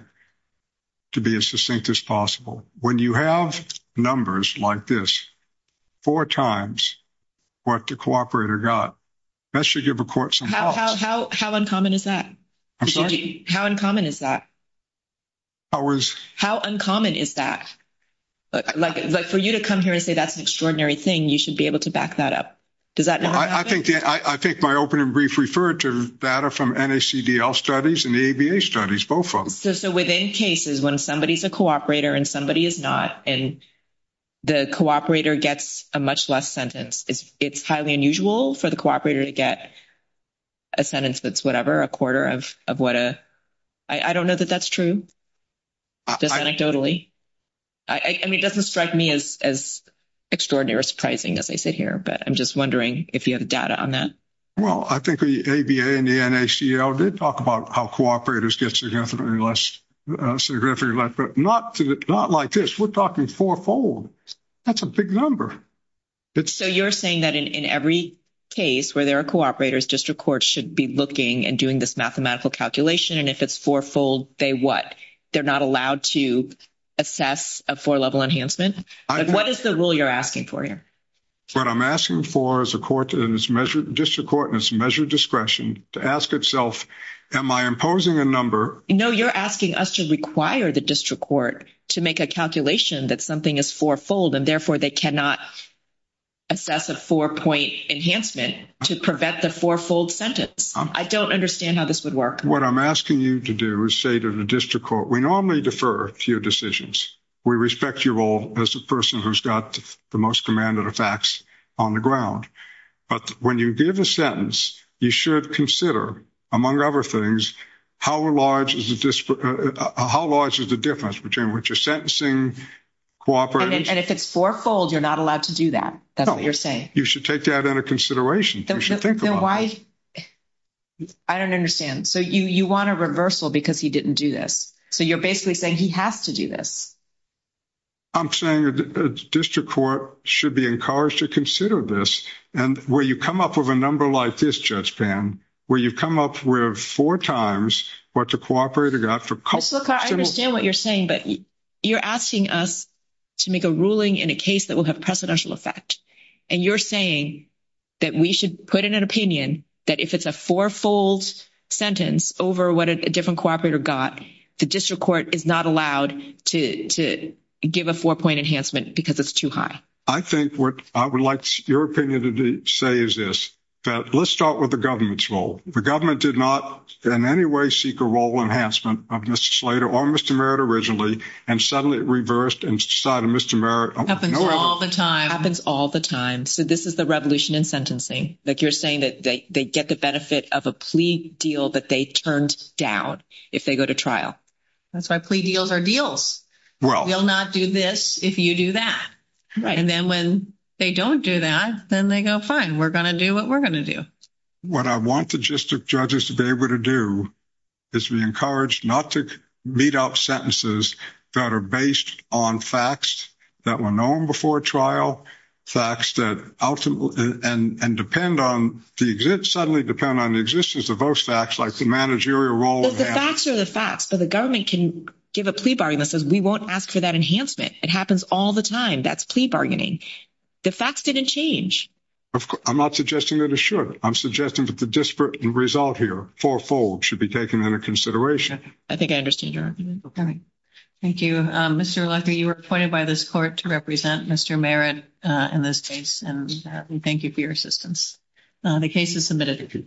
to be as succinct as possible. When you have numbers like this, four times what the cooperator got, that should give a court some help. How uncommon is that? I'm sorry? How uncommon is that? How uncommon is that? Like, for you to come here and say that's an extraordinary thing, you should be able to back that up. Does that not happen? I think my open and brief referred to data from NACDL studies and the ABA studies, both of them. So within cases when somebody is a cooperator and somebody is not, and the cooperator gets a much less sentence, it's highly unusual for the cooperator to get a sentence that's whatever, a quarter of what a ‑‑ I don't know that that's true. Anecdotally? I mean, it doesn't strike me as extraordinary or surprising as I see here, but I'm just wondering if you have data on that. Well, I think the ABA and the NACL did talk about how cooperators get significantly less, significantly less, but not like this. We're talking fourfold. That's a big number. So you're saying that in every case where there are cooperators, district courts should be looking and doing this mathematical calculation, and if it's fourfold, they what? They're not allowed to assess a four‑level enhancement? What is the rule you're asking for here? What I'm asking for is a court, a district court in its measured discretion to ask itself, am I imposing a number? No, you're asking us to require the district court to make a calculation that something is fourfold, and therefore they cannot assess a four‑point enhancement to prevent the fourfold sentence. I don't understand how this would work. What I'm asking you to do is say to the district court, we normally defer to your decisions. We respect your role as a person who's got the most command of the facts on the ground, but when you give a sentence, you should consider, among other things, how large is the difference between what you're sentencing, cooperating. And if it's fourfold, you're not allowed to do that? No. That's what you're saying. You should take that into consideration. I don't understand. So, you want a reversal because he didn't do this. So, you're basically saying he has to do this. I'm saying the district court should be encouraged to consider this. And where you come up with a number like this, Judge Pann, where you come up with four times what to cooperate against. I understand what you're saying, but you're asking us to make a ruling in a case that will have precedential effect. And you're saying that we should put in an opinion that if it's a fourfold sentence over what a different cooperator got, the district court is not allowed to give a four-point enhancement because it's too high. I think what I would like your opinion to say is this, that let's start with the government's role. The government did not in any way seek a role enhancement of Mr. Slater or Mr. Merritt originally, and suddenly it reversed and decided Mr. Merritt. Happens all the time. Happens all the time. So, this is the revolution in sentencing. Like you're saying that they get the benefit of a plea deal that they turned down if they go to trial. That's why plea deals are deals. Well. We'll not do this if you do that. Right. And then when they don't do that, then they go, fine, we're going to do what we're going to do. What I want the district judges to be able to do is be encouraged not to beat out sentences that are based on facts that were known before trial, facts that ultimately and depend on, suddenly depend on the existence of those facts like the managerial role. The facts are the facts. So, the government can give a plea bargain that says we won't ask for that enhancement. It happens all the time. That's plea bargaining. The facts didn't change. I'm not suggesting that it should. I'm suggesting that the disparate result here, fourfold, should be taken into consideration. I think I understand. Thank you. Mr. Lecker, you were appointed by this court to represent Mr. Merritt in this case, and we thank you for your assistance. The case is submitted.